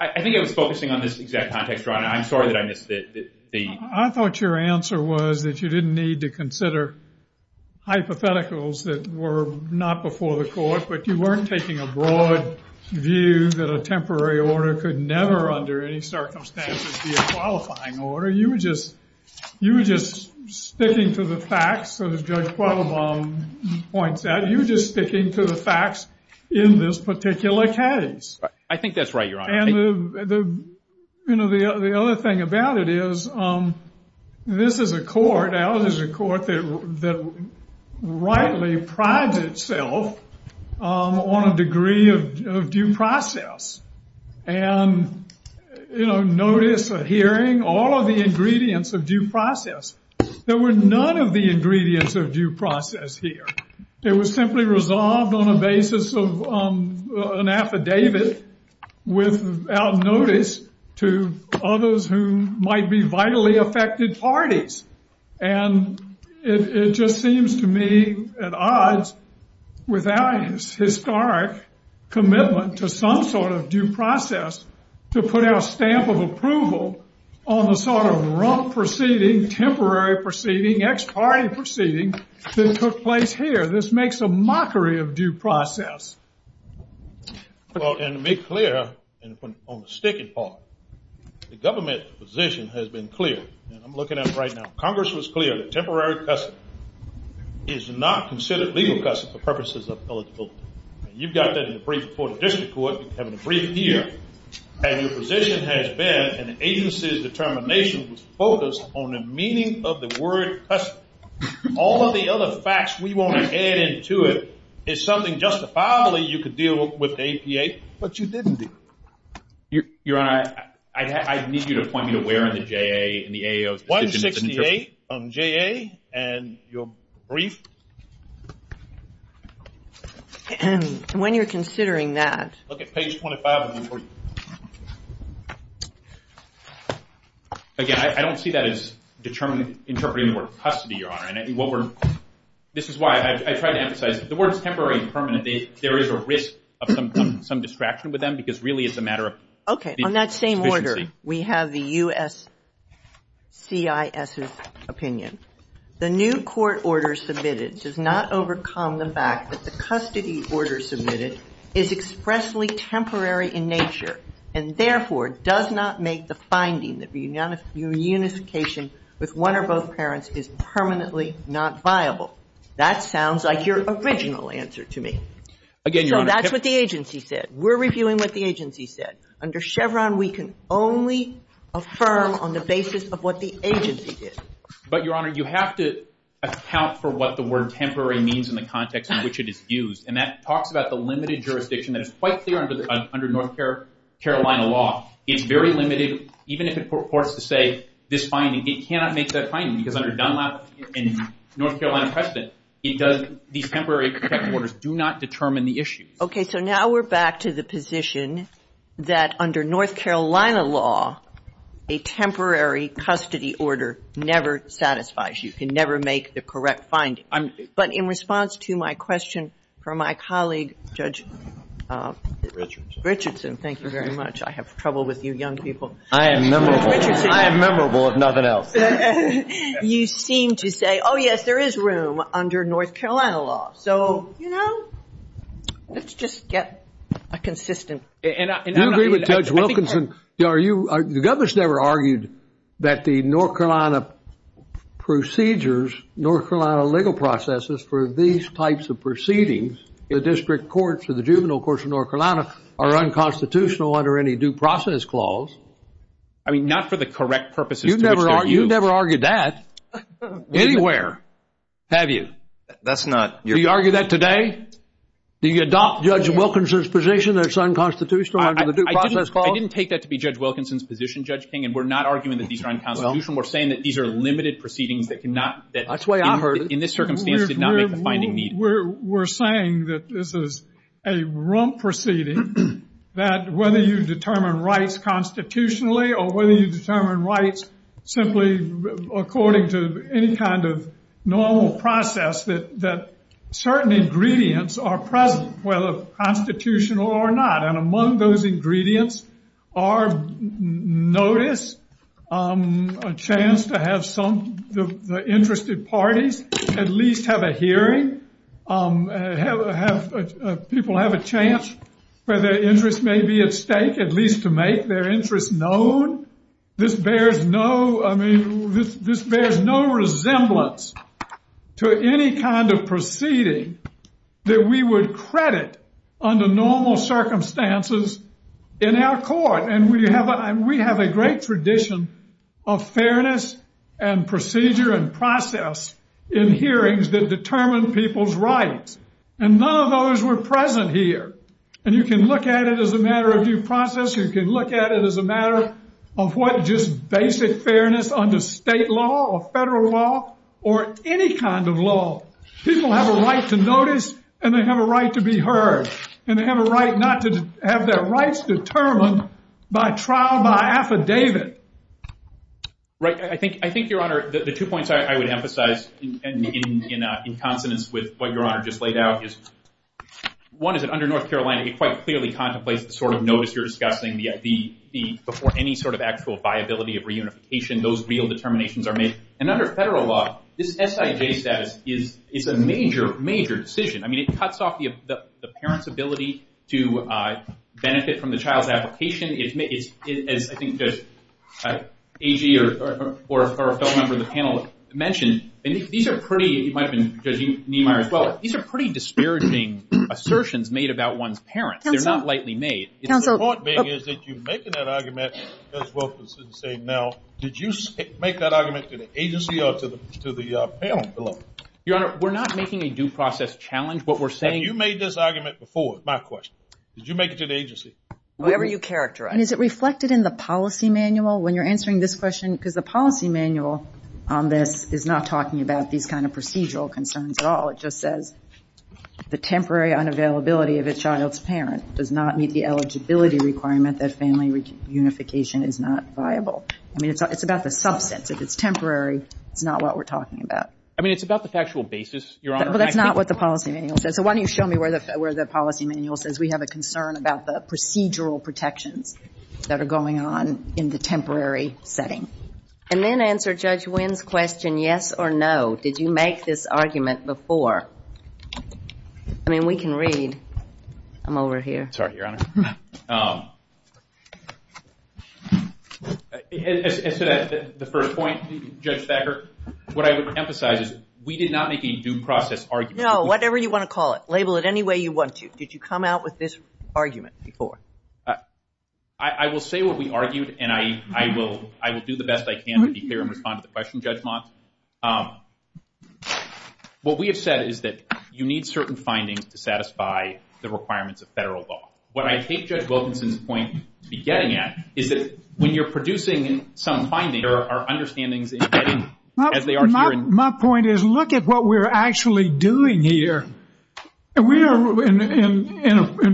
I think I was focusing on this exact context. I'm sorry that I missed it. I thought your answer was that you didn't need to consider hypotheticals that were not before the court, but you weren't taking a broad view that a temporary order could never under any circumstances be a qualifying order. You were just sticking to the facts, as Judge Quattlebaum points out. You were just sticking to the facts in this particular case. I think that's right, Your Honor. And the other thing about it is this is a court, and this is a court that rightly prides itself on a degree of due process. And, you know, notice of hearing, all of the ingredients of due process. There were none of the ingredients of due process here. It was simply resolved on the basis of an affidavit without notice to others who might be vitally affected parties. And it just seems to me at odds with our historic commitment to some sort of due process to put out a stamp of approval on the sort of rough proceeding, temporary proceeding, ex parte proceeding that took place here. This makes a mockery of due process. Well, and to make clear on the sticky part, the government's position has been clear. I'm looking at it right now. Congress was clear. Temporary custody is not considered legal custody for purposes of eligibility. And you've got that in the brief report of this report and the brief here. And your position has been an agency's determination is focused on the meaning of the word custody. All of the other facts we want to add into it is something justifiably you could deal with the APA, but you didn't do. Your Honor, I need you to point me to where in the JA and the AAO's position. 168 on JA and your brief. When you're considering that. Okay, page 25 of the brief. Again, I don't see that as determining, interpreting the word custody, Your Honor. This is why I try to emphasize, if the word is temporary and permanent, there is a risk of some distraction with them because really it's a matter of... Okay, on that same order, we have the USCIS's opinion. The new court order submitted does not overcome the fact that the custody order submitted is expressly temporary in nature and therefore does not make the finding that the unification with one or both parents is permanently not viable. That sounds like your original answer to me. So that's what the agency said. We're reviewing what the agency said. Under Chevron, we can only affirm on the basis of what the agency did. But, Your Honor, you have to account for what the word temporary means in the context in which it is used. And that talks about the limited jurisdiction that is quite clear under North Carolina law. It's very limited. Even if the court were to say this finding, it cannot make that finding because under Dunlop and North Carolina precedent, these temporary custody orders do not determine the issue. Okay, so now we're back to the position that under North Carolina law, a temporary custody order never satisfies you. You can never make the correct finding. But in response to my question from my colleague, Judge Richardson, thank you very much. I have trouble with you young people. I am memorable. I am memorable, if nothing else. You seem to say, oh, yes, there is room under North Carolina law. So, you know, let's just get a consistent. Judge Wilkinson, the Governor has never argued that the North Carolina procedures, North Carolina legal processes for these types of proceedings, the district courts or the juvenile courts in North Carolina are unconstitutional under any due process clause. I mean, not for the correct purposes. You've never argued that anywhere, have you? That's not. Do you argue that today? Do you adopt Judge Wilkinson's position that it's unconstitutional under the due process clause? I didn't take that to be Judge Wilkinson's position, Judge King, and we're not arguing that these are unconstitutional. We're saying that these are limited proceedings that cannot, that in this circumstance did not make the finding need. We're saying that this is a rump proceeding, that whether you determine rights constitutionally or whether you determine rights simply according to any kind of normal process, that certain ingredients are present, whether constitutional or not. And among those ingredients are notice, a chance to have some of the interested parties at least have a hearing, people have a chance where their interest may be at stake, at least to make their interest known. This bears no, I mean, this bears no resemblance to any kind of proceeding that we would credit under normal circumstances in our court. And we have a great tradition of fairness and procedure and process in hearings that determine people's rights. And none of those were present here. And you can look at it as a matter of due process. You can look at it as a matter of what just basic fairness under state law or federal law or any kind of law. People have a right to notice and they have a right to be heard. And they have a right not to have their rights determined by trial, by affidavit. Right. I think, Your Honor, the two points I would emphasize in consonance with what Your Honor just laid out is, one is that under North Carolina, you quite clearly contemplate the sort of notice you're discussing, before any sort of actual viability of reunification, those real determinations are made. And under federal law, this SIJ status is a major, major decision. I mean, it cuts off the parent's ability to benefit from the child's application. I think that A.G. or a fellow member of the panel mentioned, and these are pretty disparaging assertions made about one's parent. They're not lightly made. The important thing is that you make that argument as well as saying now, did you make that argument to the agency or to the parent below? Your Honor, we're not making a due process challenge. You made this argument before, is my question. Did you make it to the agency? Whatever you characterize. And is it reflected in the policy manual when you're answering this question? Because the policy manual is not talking about these kind of procedural concerns at all. It just says the temporary unavailability of a child's parent does not meet the eligibility requirement that family reunification is not viable. I mean, it's about the substance. If it's temporary, it's not what we're talking about. I mean, it's about the factual basis, Your Honor. That's not what the policy manual says. So why don't you show me where the policy manual says we have a concern about the procedural protections that are going on in the temporary setting. And then answer Judge Wynn's question, yes or no. Did you make this argument before? I mean, we can read. I'm over here. Sorry, Your Honor. To the first point, Judge Thacker, what I would emphasize is we did not make a due process argument. No, whatever you want to call it. Label it any way you want to. Did you come out with this argument before? I will say what we argued, and I will do the best I can to be fair and respond to the question, Judge Moss. What we have said is that you need certain findings to satisfy the requirements of federal law. What I take Judge Wilkinson's point to be getting at is that when you're producing some findings, you need to make sure that they are understanding the embedding as they are hearing. My point is, look at what we're actually doing here. We are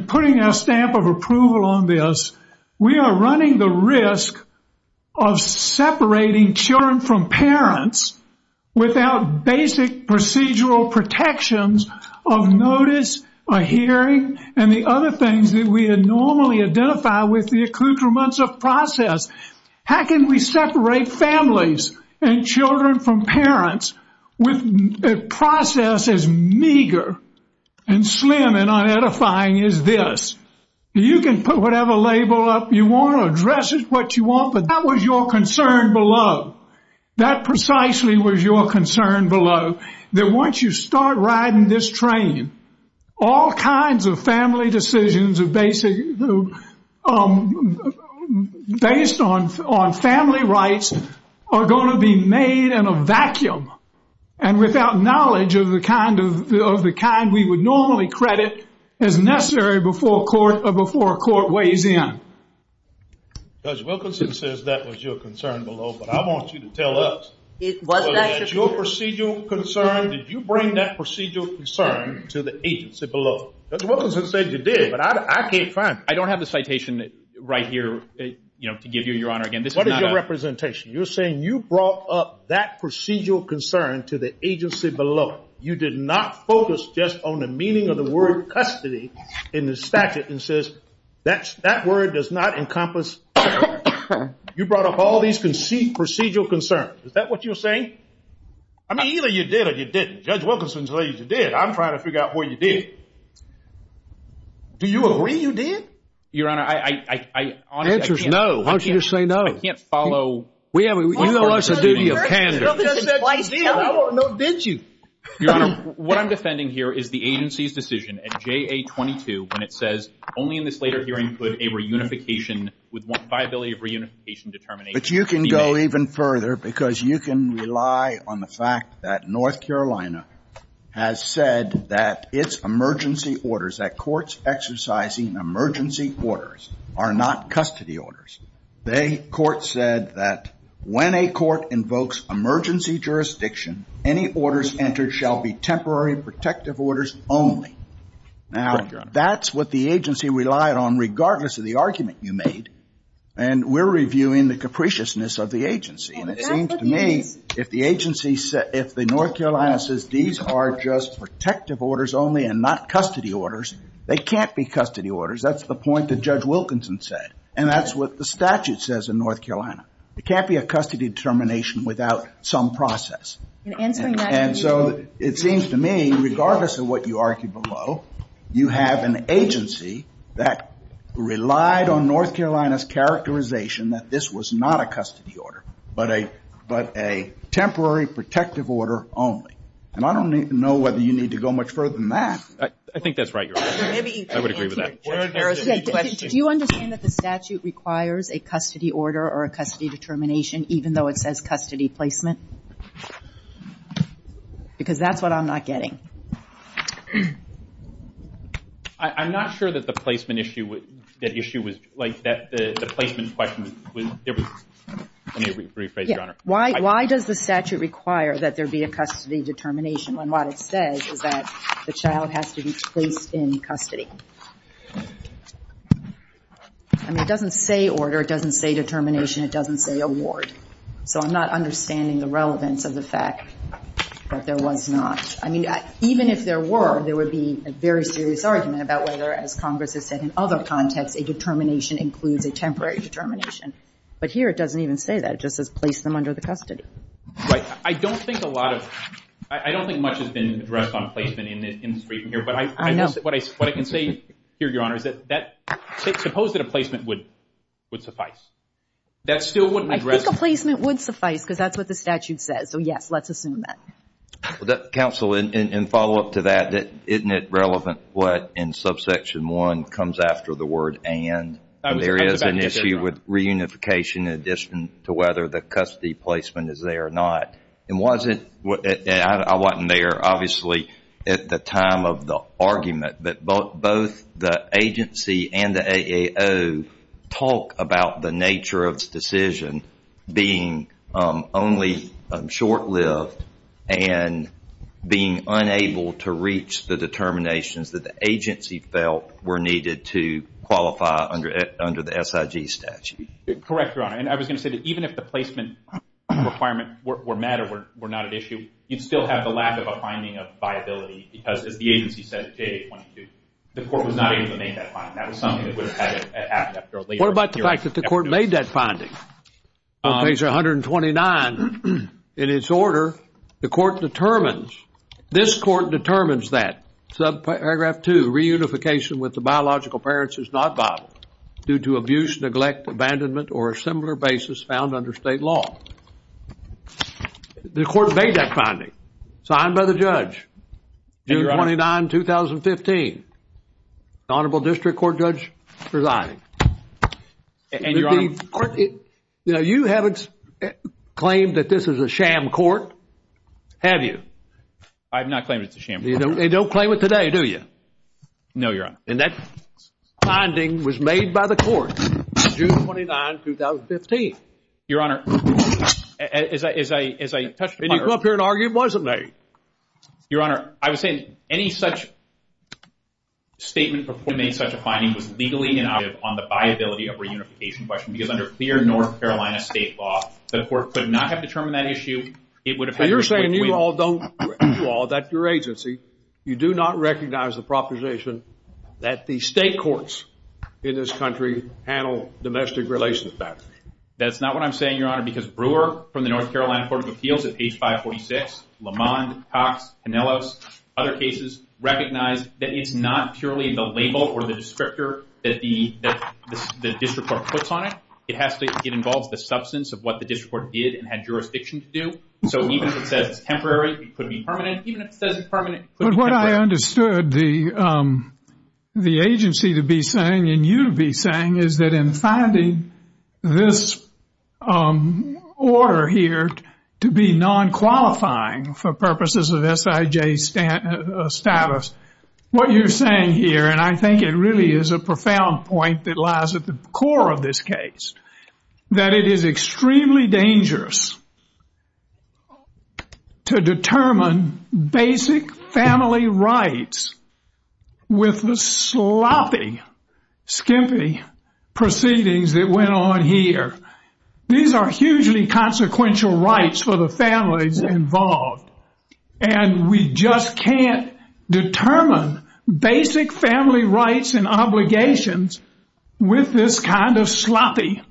putting a stamp of approval on this. We are running the risk of separating children from parents without basic procedural protections of notice, of hearing, and the other things that we normally identify with the accoutrements of process. How can we separate families and children from parents if process is meager and slim and unedifying as this? You can put whatever label up you want or address it what you want, but that was your concern below. That precisely was your concern below, that once you start riding this train, all kinds of family decisions based on family rights are going to be made in a vacuum and without knowledge of the kind we would normally credit as necessary before a court weighs in. Judge Wilkinson says that was your concern below, but I want you to tell us, was that your procedural concern? Did you bring that procedural concern to the agency below? Judge Wilkinson said you did, but I can't find it. I don't have the citation right here to give you, Your Honor, again. What is your representation? You're saying you brought up that procedural concern to the agency below. You did not focus just on the meaning of the word custody in the statute and says that word does not encompass. You brought up all these procedural concerns. Is that what you're saying? I mean, either you did or you didn't. Judge Wilkinson says you did. I'm trying to figure out what you did. Do you agree you did? Your Honor, I honestly can't. Why don't you just say no? I can't follow. You don't want us to do the appendix. I did. No, did you? Your Honor, what I'm defending here is the agency's decision at JA-22 when it says, only in this later hearing could a reunification with viability of reunification determination be made. But you can go even further because you can rely on the fact that North Carolina has said that its emergency orders, that courts exercising emergency orders are not custody orders. The court said that when a court invokes emergency jurisdiction, any orders entered shall be temporary protective orders only. Now, that's what the agency relied on regardless of the argument you made. And we're reviewing the capriciousness of the agency. And it seems to me if the agency, if the North Carolina says these are just protective orders only and not custody orders, they can't be custody orders. That's the point that Judge Wilkinson said. And that's what the statute says in North Carolina. It can't be a custody determination without some process. And so it seems to me regardless of what you argue below, you have an agency that relied on North Carolina's characterization that this was not a custody order, but a temporary protective order only. And I don't know whether you need to go much further than that. I think that's right, Your Honor. I would agree with that. Do you understand that the statute requires a custody order or a custody determination even though it says custody placement? Because that's what I'm not getting. I'm not sure that the placement issue, that issue was, like, the placement question. Why does the statute require that there be a custody determination when what it says is that the child has to be placed in custody? I mean, it doesn't say order. It doesn't say determination. It doesn't say award. So I'm not understanding the relevance of the fact that there was not. I mean, even if there were, there would be a very serious argument about whether, as Congress has said in other contexts, a determination includes a temporary determination. But here it doesn't even say that. It just says place them under the custody. Right. I don't think a lot of, I don't think much has been addressed on placement in this case here. I know. What I can say here, Your Honor, is that suppose that a placement would suffice. That still wouldn't address. I think a placement would suffice because that's what the statute says. So, yes, let's assume that. Counsel, in follow-up to that, isn't it relevant what in subsection 1 comes after the word and? There is an issue with reunification in addition to whether the custody placement is there or not. I wasn't there, obviously, at the time of the argument. But both the agency and the AAO talk about the nature of the decision being only short-lived and being unable to reach the determinations that the agency felt were needed to qualify under the SIG statute. Correct, Your Honor. And I was going to say that even if the placement requirements were met or were not an issue, you'd still have the lack of a finding of viability because if the agency said it did, the court would not inclinate that finding. That was something that would have happened after a later period. What about the fact that the court made that finding? Page 129, in its order, the court determines, this court determines that, subparagraph 2, reunification with the biological parents is not viable due to abuse, neglect, abandonment, or a similar basis found under state law. The court made that finding. Signed by the judge, June 29, 2015. Honorable District Court Judge presiding. And, Your Honor. You haven't claimed that this is a sham court, have you? I have not claimed it's a sham court. You don't claim it today, do you? No, Your Honor. And that finding was made by the court, June 29, 2015. Your Honor, as I touched upon earlier. And you came up here and argued, wasn't you? Your Honor, I was saying any such statement before the court made such a finding was legally inactive on the viability of reunification question because under clear North Carolina state law, the court could not have determined that issue. You're saying you all don't, you all, that your agency, you do not recognize the proposition that the state courts in this country handle domestic relations facts. That's not what I'm saying, Your Honor, because Brewer from the North Carolina Court of Appeals at page 546, Lamond, Cox, Canellos, other cases, recognize that it's not purely the label or the descriptor that the district court puts on it. It has to involve the substance of what the district court did and had jurisdiction to do. So even if it says temporary, it could be permanent, even if it says permanent. But what I understood the agency to be saying and you to be saying is that in finding this order here to be non-qualifying for purposes of SIJ status, what you're saying here, and I think it really is a profound point that lies at the core of this case, that it is extremely dangerous to determine basic family rights with the sloppy, skimpy proceedings that went on here. These are hugely consequential rights for the families involved, and we just can't determine basic family rights and obligations with this kind of sloppy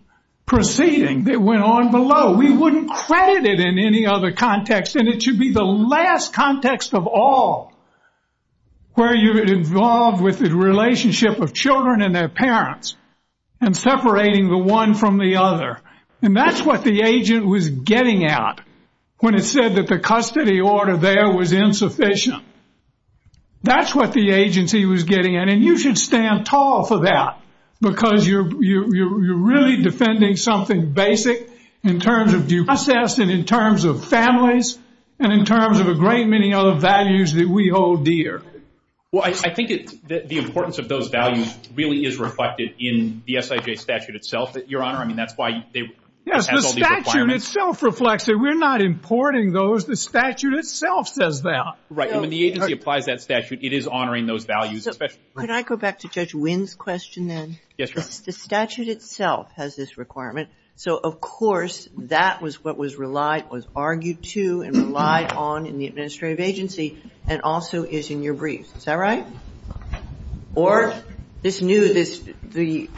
proceeding that went on below. We wouldn't credit it in any other context, and it should be the last context of all where you're involved with the relationship of children and their parents and separating the one from the other. And that's what the agent was getting at when it said that the custody order there was insufficient. That's what the agency was getting at, and you should stand tall for that because you're really defending something basic in terms of due process and in terms of families and in terms of a great many other values that we hold dear. Well, I think the importance of those values really is reflected in the SIJ statute itself, Your Honor. I mean, that's why it has all these requirements. Yes, the statute itself reflects it. We're not importing those. The statute itself says that. Right, and when the agency applies that statute, it is honoring those values. Could I go back to Judge Wynn's question then? Yes, Your Honor. The statute itself has this requirement. So, of course, that was what was argued to and relied on in the administrative agency and also is in your brief. Is that right? Or this new, the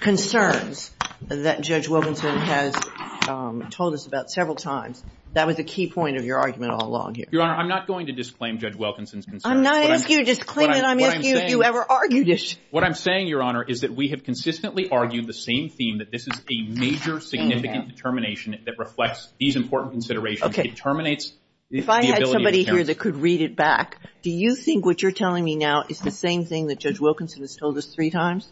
concerns that Judge Wilkinson has told us about several times. That was the key point of your argument all along here. Your Honor, I'm not going to disclaim Judge Wilkinson's concerns. I'm not asking you to disclaim it. I'm asking you if you ever argued it. What I'm saying, Your Honor, is that we have consistently argued the same theme, that this is a major significant determination that reflects these important considerations. If I had somebody here that could read it back, do you think what you're telling me now is the same thing that Judge Wilkinson has told us three times?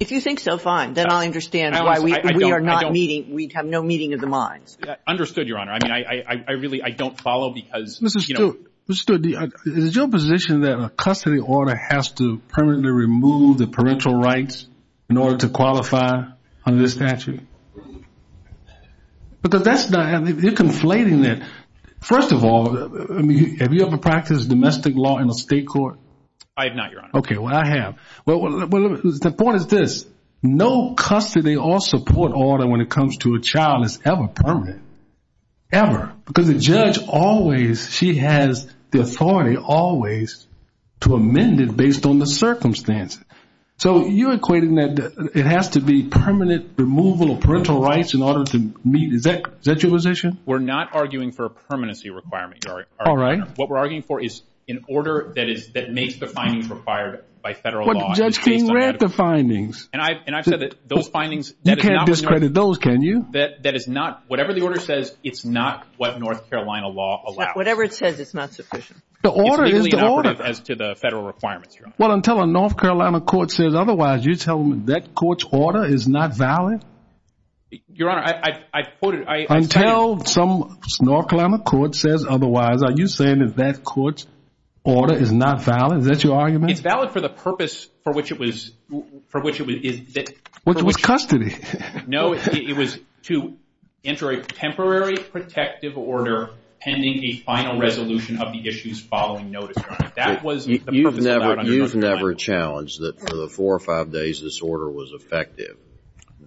If you think so, fine. Then I understand why we are not meeting, we have no meeting of the minds. Understood, Your Honor. I mean, I really, I don't follow because, you know. Mr. Stewart, is it your position that a custody order has to permanently remove the parental rights in order to qualify under the statute? Because that's not, you're conflating it. First of all, have you ever practiced domestic law in a state court? I have not, Your Honor. Okay, well, I have. The point is this. No custody or support order when it comes to a child is ever permanent. Ever. Because the judge always, she has the authority always to amend it based on the circumstances. So you're equating that it has to be permanent removal of parental rights in order to meet. Is that your position? We're not arguing for a permanency requirement, Your Honor. All right. What we're arguing for is an order that makes the findings required by federal law. But Judge King read the findings. And I've said that those findings. You can't discredit those, can you? That is not, whatever the order says, it's not what North Carolina law allows. Whatever it says, it's not sufficient. The order is the order. As to the federal requirements, Your Honor. Well, until a North Carolina court says otherwise, you're telling me that court's order is not valid? Your Honor, I quoted. Until some North Carolina court says otherwise, are you saying that that court's order is not valid? Is that your argument? It's valid for the purpose for which it was. Which was custody. No, it was to enter a temporary protective order pending a final resolution of the issues following notice, Your Honor. You've never challenged that for the four or five days this order was effective,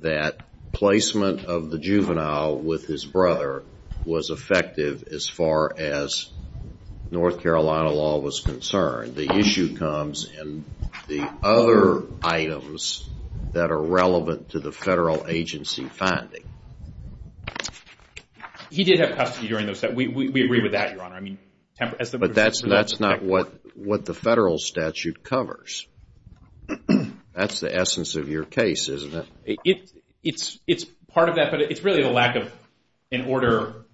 that placement of the juvenile with his brother was effective as far as North Carolina law was concerned. The issue comes in the other items that are relevant to the federal agency finding. He did have custody during those times. We agree with that, Your Honor. But that's not what the federal statute covers. That's the essence of your case, isn't it? It's part of that, but it's really a lack of an order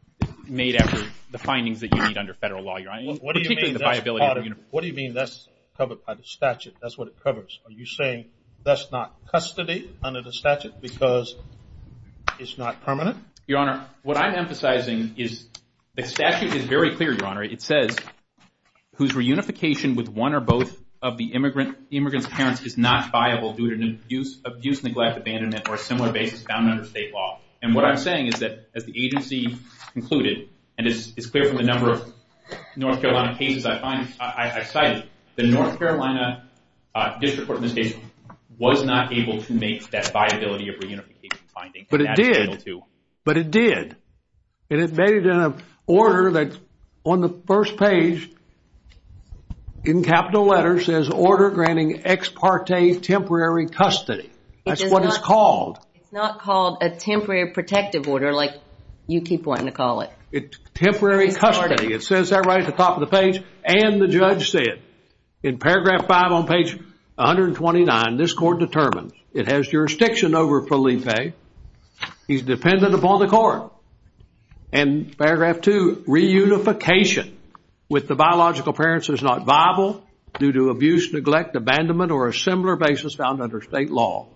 made after the findings that you read under federal law, Your Honor. What do you mean that's covered by the statute? That's what it covers. Are you saying that's not custody under the statute because it's not permanent? Your Honor, what I'm emphasizing is the statute is very clear, Your Honor. It says, whose reunification with one or both of the immigrant's parents is not viable due to an abuse, neglect, abandonment, or a similar case found under state law. And what I'm saying is that the agency concluded, and it's clear from the number of North Carolina cases I cited, the North Carolina District Court of Appeals was not able to make that viability of reunification finding. But it did. But it did. And it made it in an order that, on the first page, in capital letters, says, order granting ex parte temporary custody. That's what it's called. It's not called a temporary protective order like you keep wanting to call it. It's temporary custody. It says that right at the top of the page. And the judge said, in paragraph five on page 129, this court determines it has jurisdiction over Felipe. He's dependent upon the court. And paragraph two, reunification with the biological parents is not viable due to abuse, neglect, abandonment, or a similar basis found under state law.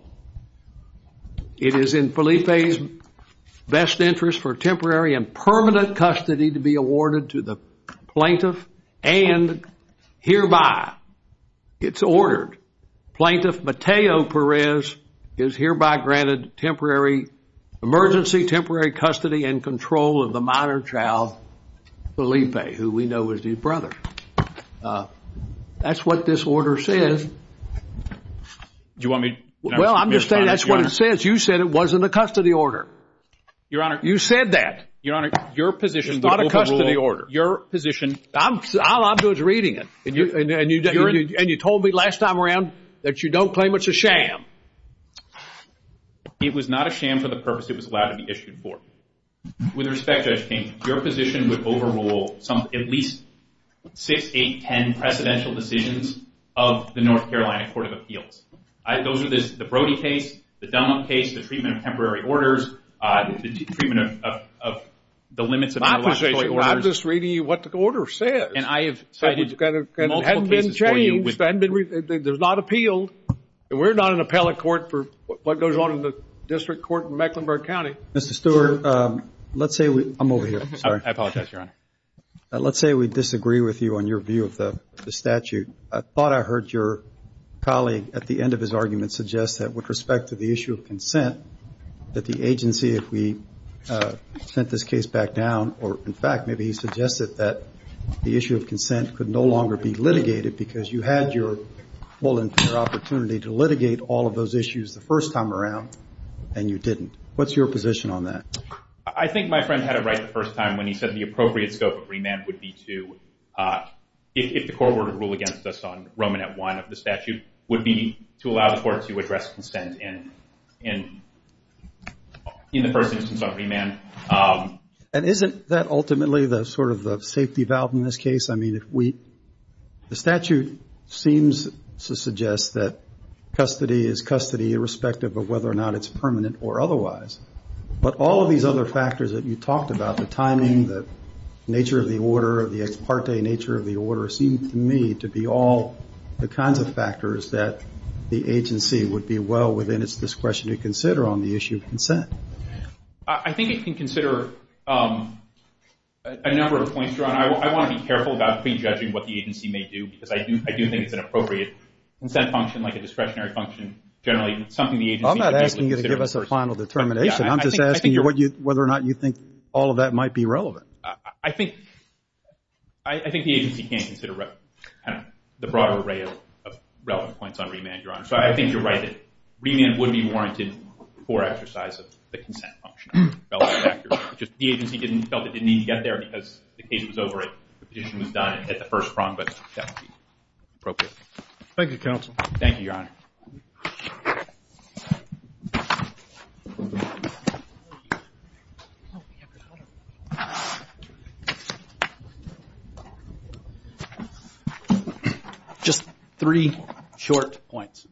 It is in Felipe's best interest for temporary and permanent custody to be awarded to the plaintiff and hereby. It's ordered. Plaintiff Mateo Perez is hereby granted temporary emergency, temporary custody and control of the minor child, Felipe, who we know is his brother. That's what this order says. Well, I'm just saying that's what it says. You said it wasn't a custody order. You said that. It's not a custody order. I'm just reading it. And you told me last time around that you don't claim it's a sham. It was not a sham for the purpose it was allowed to be issued for. With respect to education, your position would overrule some at least six, eight, ten presidential decisions of the North Carolina Court of Appeals. I go to the Brody case, the Dunlop case, the treatment of temporary orders, the treatment of the limits of intellectual property. I'm just reading you what the order says. It hasn't been changed. There's not appealed. We're not an appellate court for what goes on in the district court in Mecklenburg County. Mr. Stewart, let's say we – I'm over here. I apologize, Your Honor. Let's say we disagree with you on your view of the statute. I thought I heard your colleague at the end of his argument suggest that with respect to the issue of consent, that the agency, if we sent this case back down, or, in fact, maybe he suggested that the issue of consent could no longer be litigated because you had your full and fair opportunity to litigate all of those issues the first time around, and you didn't. What's your position on that? I think my friend had it right the first time when he said the appropriate scope of remand would be to – if the court were to rule against us on Roman at 1 of the statute, would be to allow the court to address consent in the first instance of remand. And isn't that ultimately the sort of safety valve in this case? The statute seems to suggest that custody is custody irrespective of whether or not it's permanent or otherwise. But all of these other factors that you talked about, the timing, the nature of the order, the ex parte nature of the order, seem to me to be all the kinds of factors that the agency would be well within its discretion to consider on the issue of consent. I think it can consider a number of points, Your Honor. I want to be careful about pre-judging what the agency may do because I do think it's an appropriate consent function, like a discretionary function, generally something the agency – I'm not asking you to give us a final determination. I'm just asking you whether or not you think all of that might be relevant. I think the agency can consider the broader array of relevant points on remand, Your Honor. So I think you're right that remand would be warranted for exercise of the consent function. The agency felt it didn't need to get there because the case was over and the petition was done at the first prompt. Thank you, counsel. Thank you, Your Honor. Just three short points.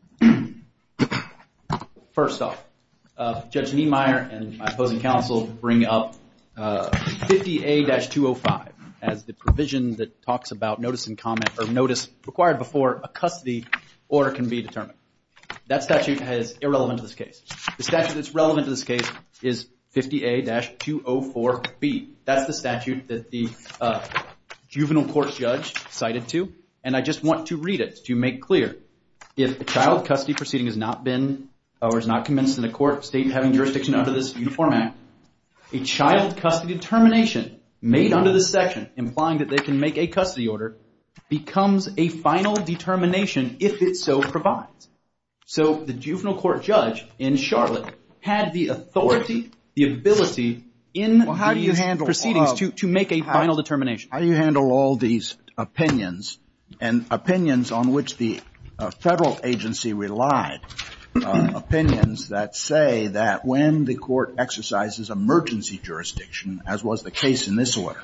First off, Judge Niemeyer and my opposing counsel bring up 50A-205 as the provision that talks about notice in comment or notice required before a custody order can be determined. That statute is irrelevant to this case. The statute that's relevant to this case is 50A-204B. That's the statute that the juvenile court judge cited to, and I just want to read it to make clear. If a child custody proceeding has not been or is not commenced in a court state having jurisdiction under this new format, a child custody determination made under this section implying that they can make a custody order becomes a final determination if it so provides. So the juvenile court judge in Charlotte had the authority, the ability in the proceedings to make a final determination. How do you handle all these opinions and opinions on which the federal agency relied? Opinions that say that when the court exercises emergency jurisdiction, as was the case in this order,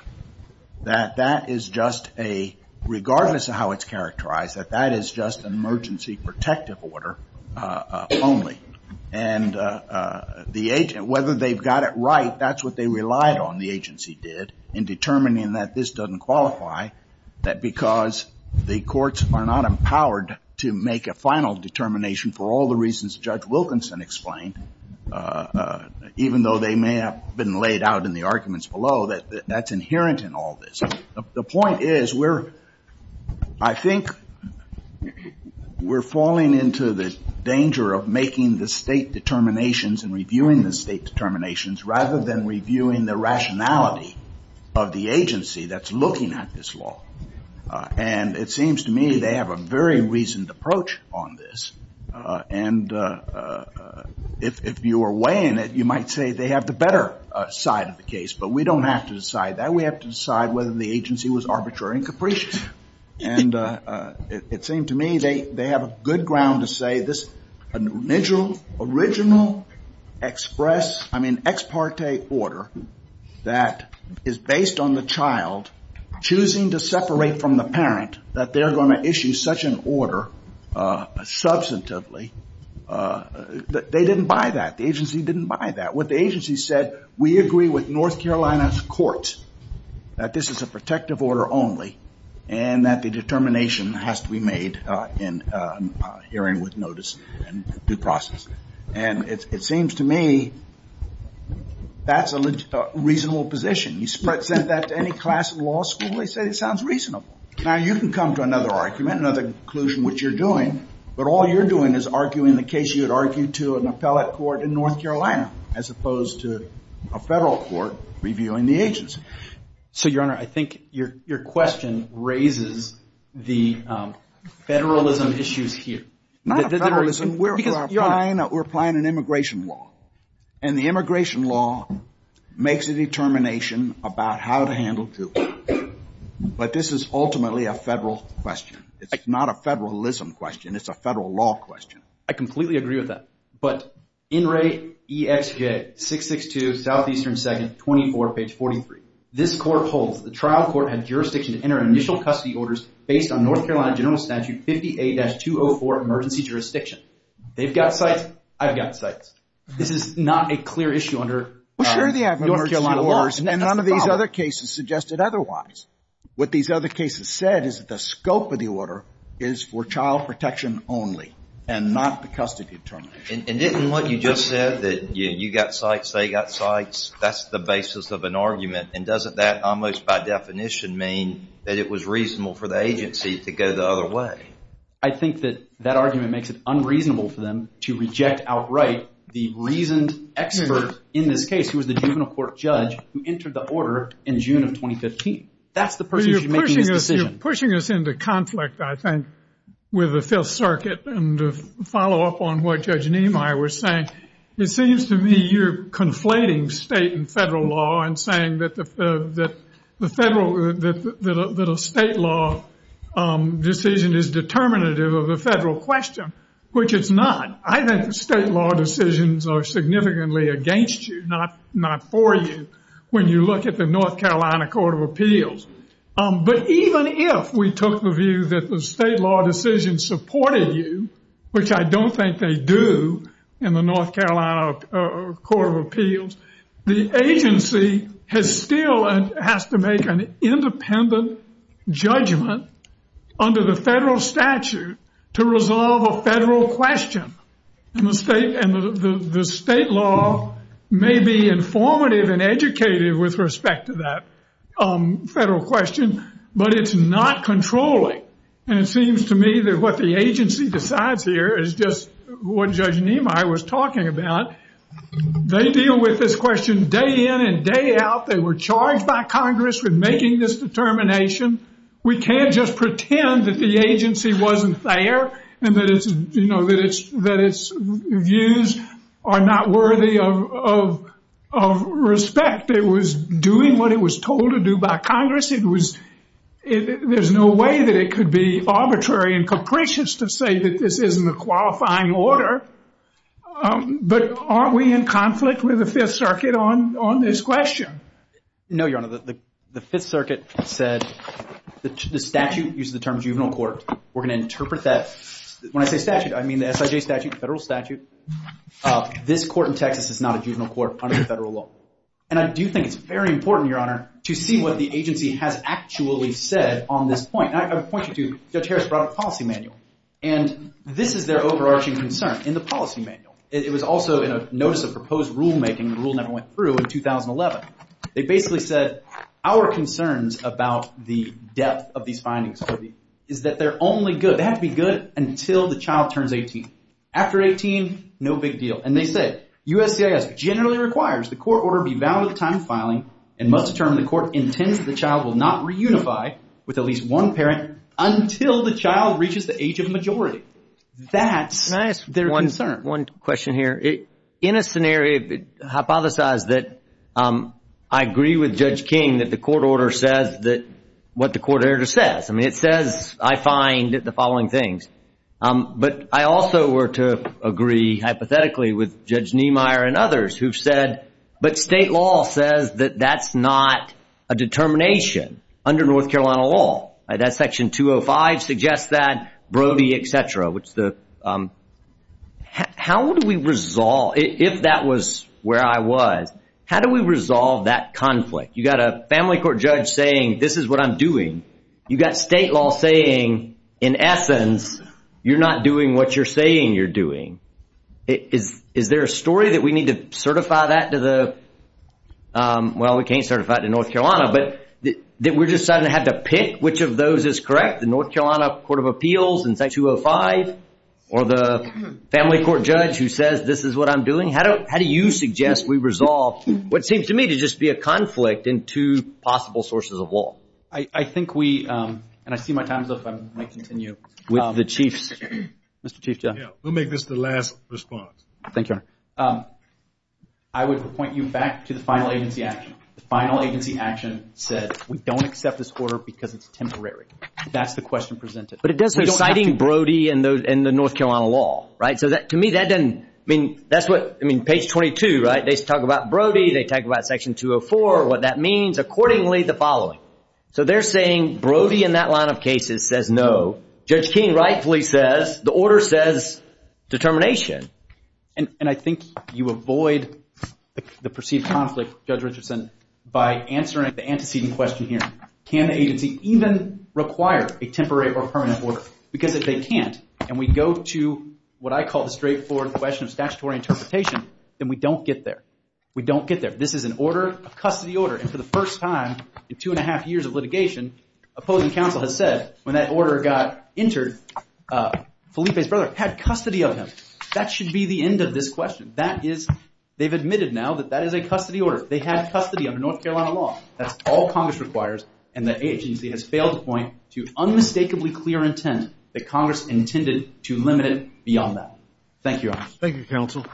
that that is just a, regardless of how it's characterized, that that is just an emergency protective order only. And the agent, whether they've got it right, that's what they relied on, the agency did, in determining that this doesn't qualify, that because the courts are not empowered to make a final determination for all the reasons Judge Wilkinson explained, even though they may have been laid out in the arguments below, that that's inherent in all this. The point is we're, I think, we're falling into the danger of making the state determinations and reviewing the state determinations rather than reviewing the rationality of the agency that's looking at this law. And it seems to me they have a very reasoned approach on this. And if you are weighing it, you might say they have the better side of the case, but we don't have to decide that. We only have to decide whether the agency was arbitrary and capricious. And it seemed to me they have a good ground to say this original express, I mean, ex parte order that is based on the child choosing to separate from the parent, that they're going to issue such an order substantively, they didn't buy that. The agency didn't buy that. What the agency said, we agree with North Carolina's courts that this is a protective order only and that the determination has to be made in hearing with notice and due process. And it seems to me that's a reasonable position. You send that to any class in law school, they say it sounds reasonable. Now, you can come to another argument, another conclusion, which you're doing, but all you're doing is arguing the case you had argued to in a federal court in North Carolina, as opposed to a federal court reviewing the agency. So, Your Honor, I think your question raises the federalism issues here. We're applying an immigration law. And the immigration law makes a determination about how to handle people. But this is ultimately a federal question. It's not a federalism question. It's a federal law question. I completely agree with that. But NRA EXJ 662 Southeastern 2nd, 24, page 43. This court holds that the trial court had jurisdiction to enter initial custody orders based on North Carolina General Statute 58-204 emergency jurisdiction. They've got sites. I've got sites. This is not a clear issue under North Carolina law. Well, sure they have emergency orders, and none of these other cases suggested otherwise. What these other cases said is that the scope of the order is for child protection only and not the custody determination. And didn't what you just said, that you've got sites, they've got sites, that's the basis of an argument. And doesn't that almost by definition mean that it was reasonable for the agencies to go the other way? I think that that argument makes it unreasonable for them to reject outright the reason, in this case, it was the juvenile court judge who entered the order in June of 2015. That's the procedure making the decision. You're pushing us into conflict, I think, with the Fifth Circuit. And to follow up on what Judge Nimai was saying, it seems to me you're conflating state and federal law and saying that a state law decision is determinative of a federal question, which it's not. I think state law decisions are significantly against you, not for you, when you look at the North Carolina Court of Appeals. But even if we took the view that the state law decision supported you, which I don't think they do in the North Carolina Court of Appeals, the agency still has to make an independent judgment under the federal statute to resolve a federal question. And the state law may be informative and educated with respect to that federal question, but it's not controlling. And it seems to me that what the agency decides here is just what Judge Nimai was talking about. They deal with this question day in and day out. They were charged by Congress with making this determination. We can't just pretend that the agency wasn't there and that its views are not worthy of respect. It was doing what it was told to do by Congress. There's no way that it could be arbitrary and capricious to say that this isn't a qualifying order. But aren't we in conflict with the Fifth Circuit on this question? No, Your Honor. The Fifth Circuit said the statute uses the term juvenile court. We're going to interpret that. When I say statute, I mean the SIJ statute, the federal statute. This court in Texas is not a juvenile court under the federal law. And I do think it's very important, Your Honor, to see what the agency has actually said on this point. And I point you to Judge Harris' broader policy manual. And this is their overarching concern in the policy manual. It was also in a notice of proposed rulemaking. The rule never went through in 2011. It basically says our concerns about the depth of these findings is that they're only good. They have to be good until the child turns 18. After 18, no big deal. And they say USCIS generally requires the court order be valid with time filing. In month's term, the court intends the child will not reunify with at least one parent until the child reaches the age of majority. That's their concern. One question here. In a scenario, hypothesize that I agree with Judge King that the court order says what the court order says. I mean it says I find the following things. But I also were to agree hypothetically with Judge Niemeyer and others who've said, but state law says that that's not a determination under North Carolina law. That section 205 suggests that, Brody, et cetera. How would we resolve, if that was where I was, how do we resolve that conflict? You've got a family court judge saying this is what I'm doing. You've got state law saying in essence you're not doing what you're saying you're doing. Is there a story that we need to certify that to the, well, we can't certify it to North Carolina, but we're deciding to have to pick which of those is correct, the North Carolina Court of Appeals in section 205, or the family court judge who says this is what I'm doing? How do you suggest we resolve what seems to me to just be a conflict in two possible sources of law? I think we, and I see my time's up. I might continue. With the chief. Mr. Chief Judge. We'll make this the last response. Thank you. I would point you back to the final agency action. The final agency action said we don't accept this order because it's temporary. That's the question presented. But it does say citing Brody and the North Carolina law, right? So to me that doesn't, I mean, that's what, I mean, page 22, right? They talk about Brody. They talk about section 204, what that means. Accordingly, the following. So they're saying Brody in that line of cases says no. Judge King rightfully says the order says determination. And I think you avoid the perceived conflict, Judge Richardson, by answering the antecedent question here. Can an agency even require a temporary or permanent order? Because if they can't and we go to what I call the straightforward question of statutory interpretation, then we don't get there. We don't get there. This is an order, a custody order, and for the first time in two and a half years of litigation, opposing counsel has said when that order got entered, Felipe's brother had custody of him. That should be the end of this question. That is, they've admitted now that that is a custody order. They have custody of the North Carolina law. That's all Congress requires, and the agency has failed to point to unmistakably clear intent that Congress intended to limit it beyond that. Thank you all. Thank you, counsel.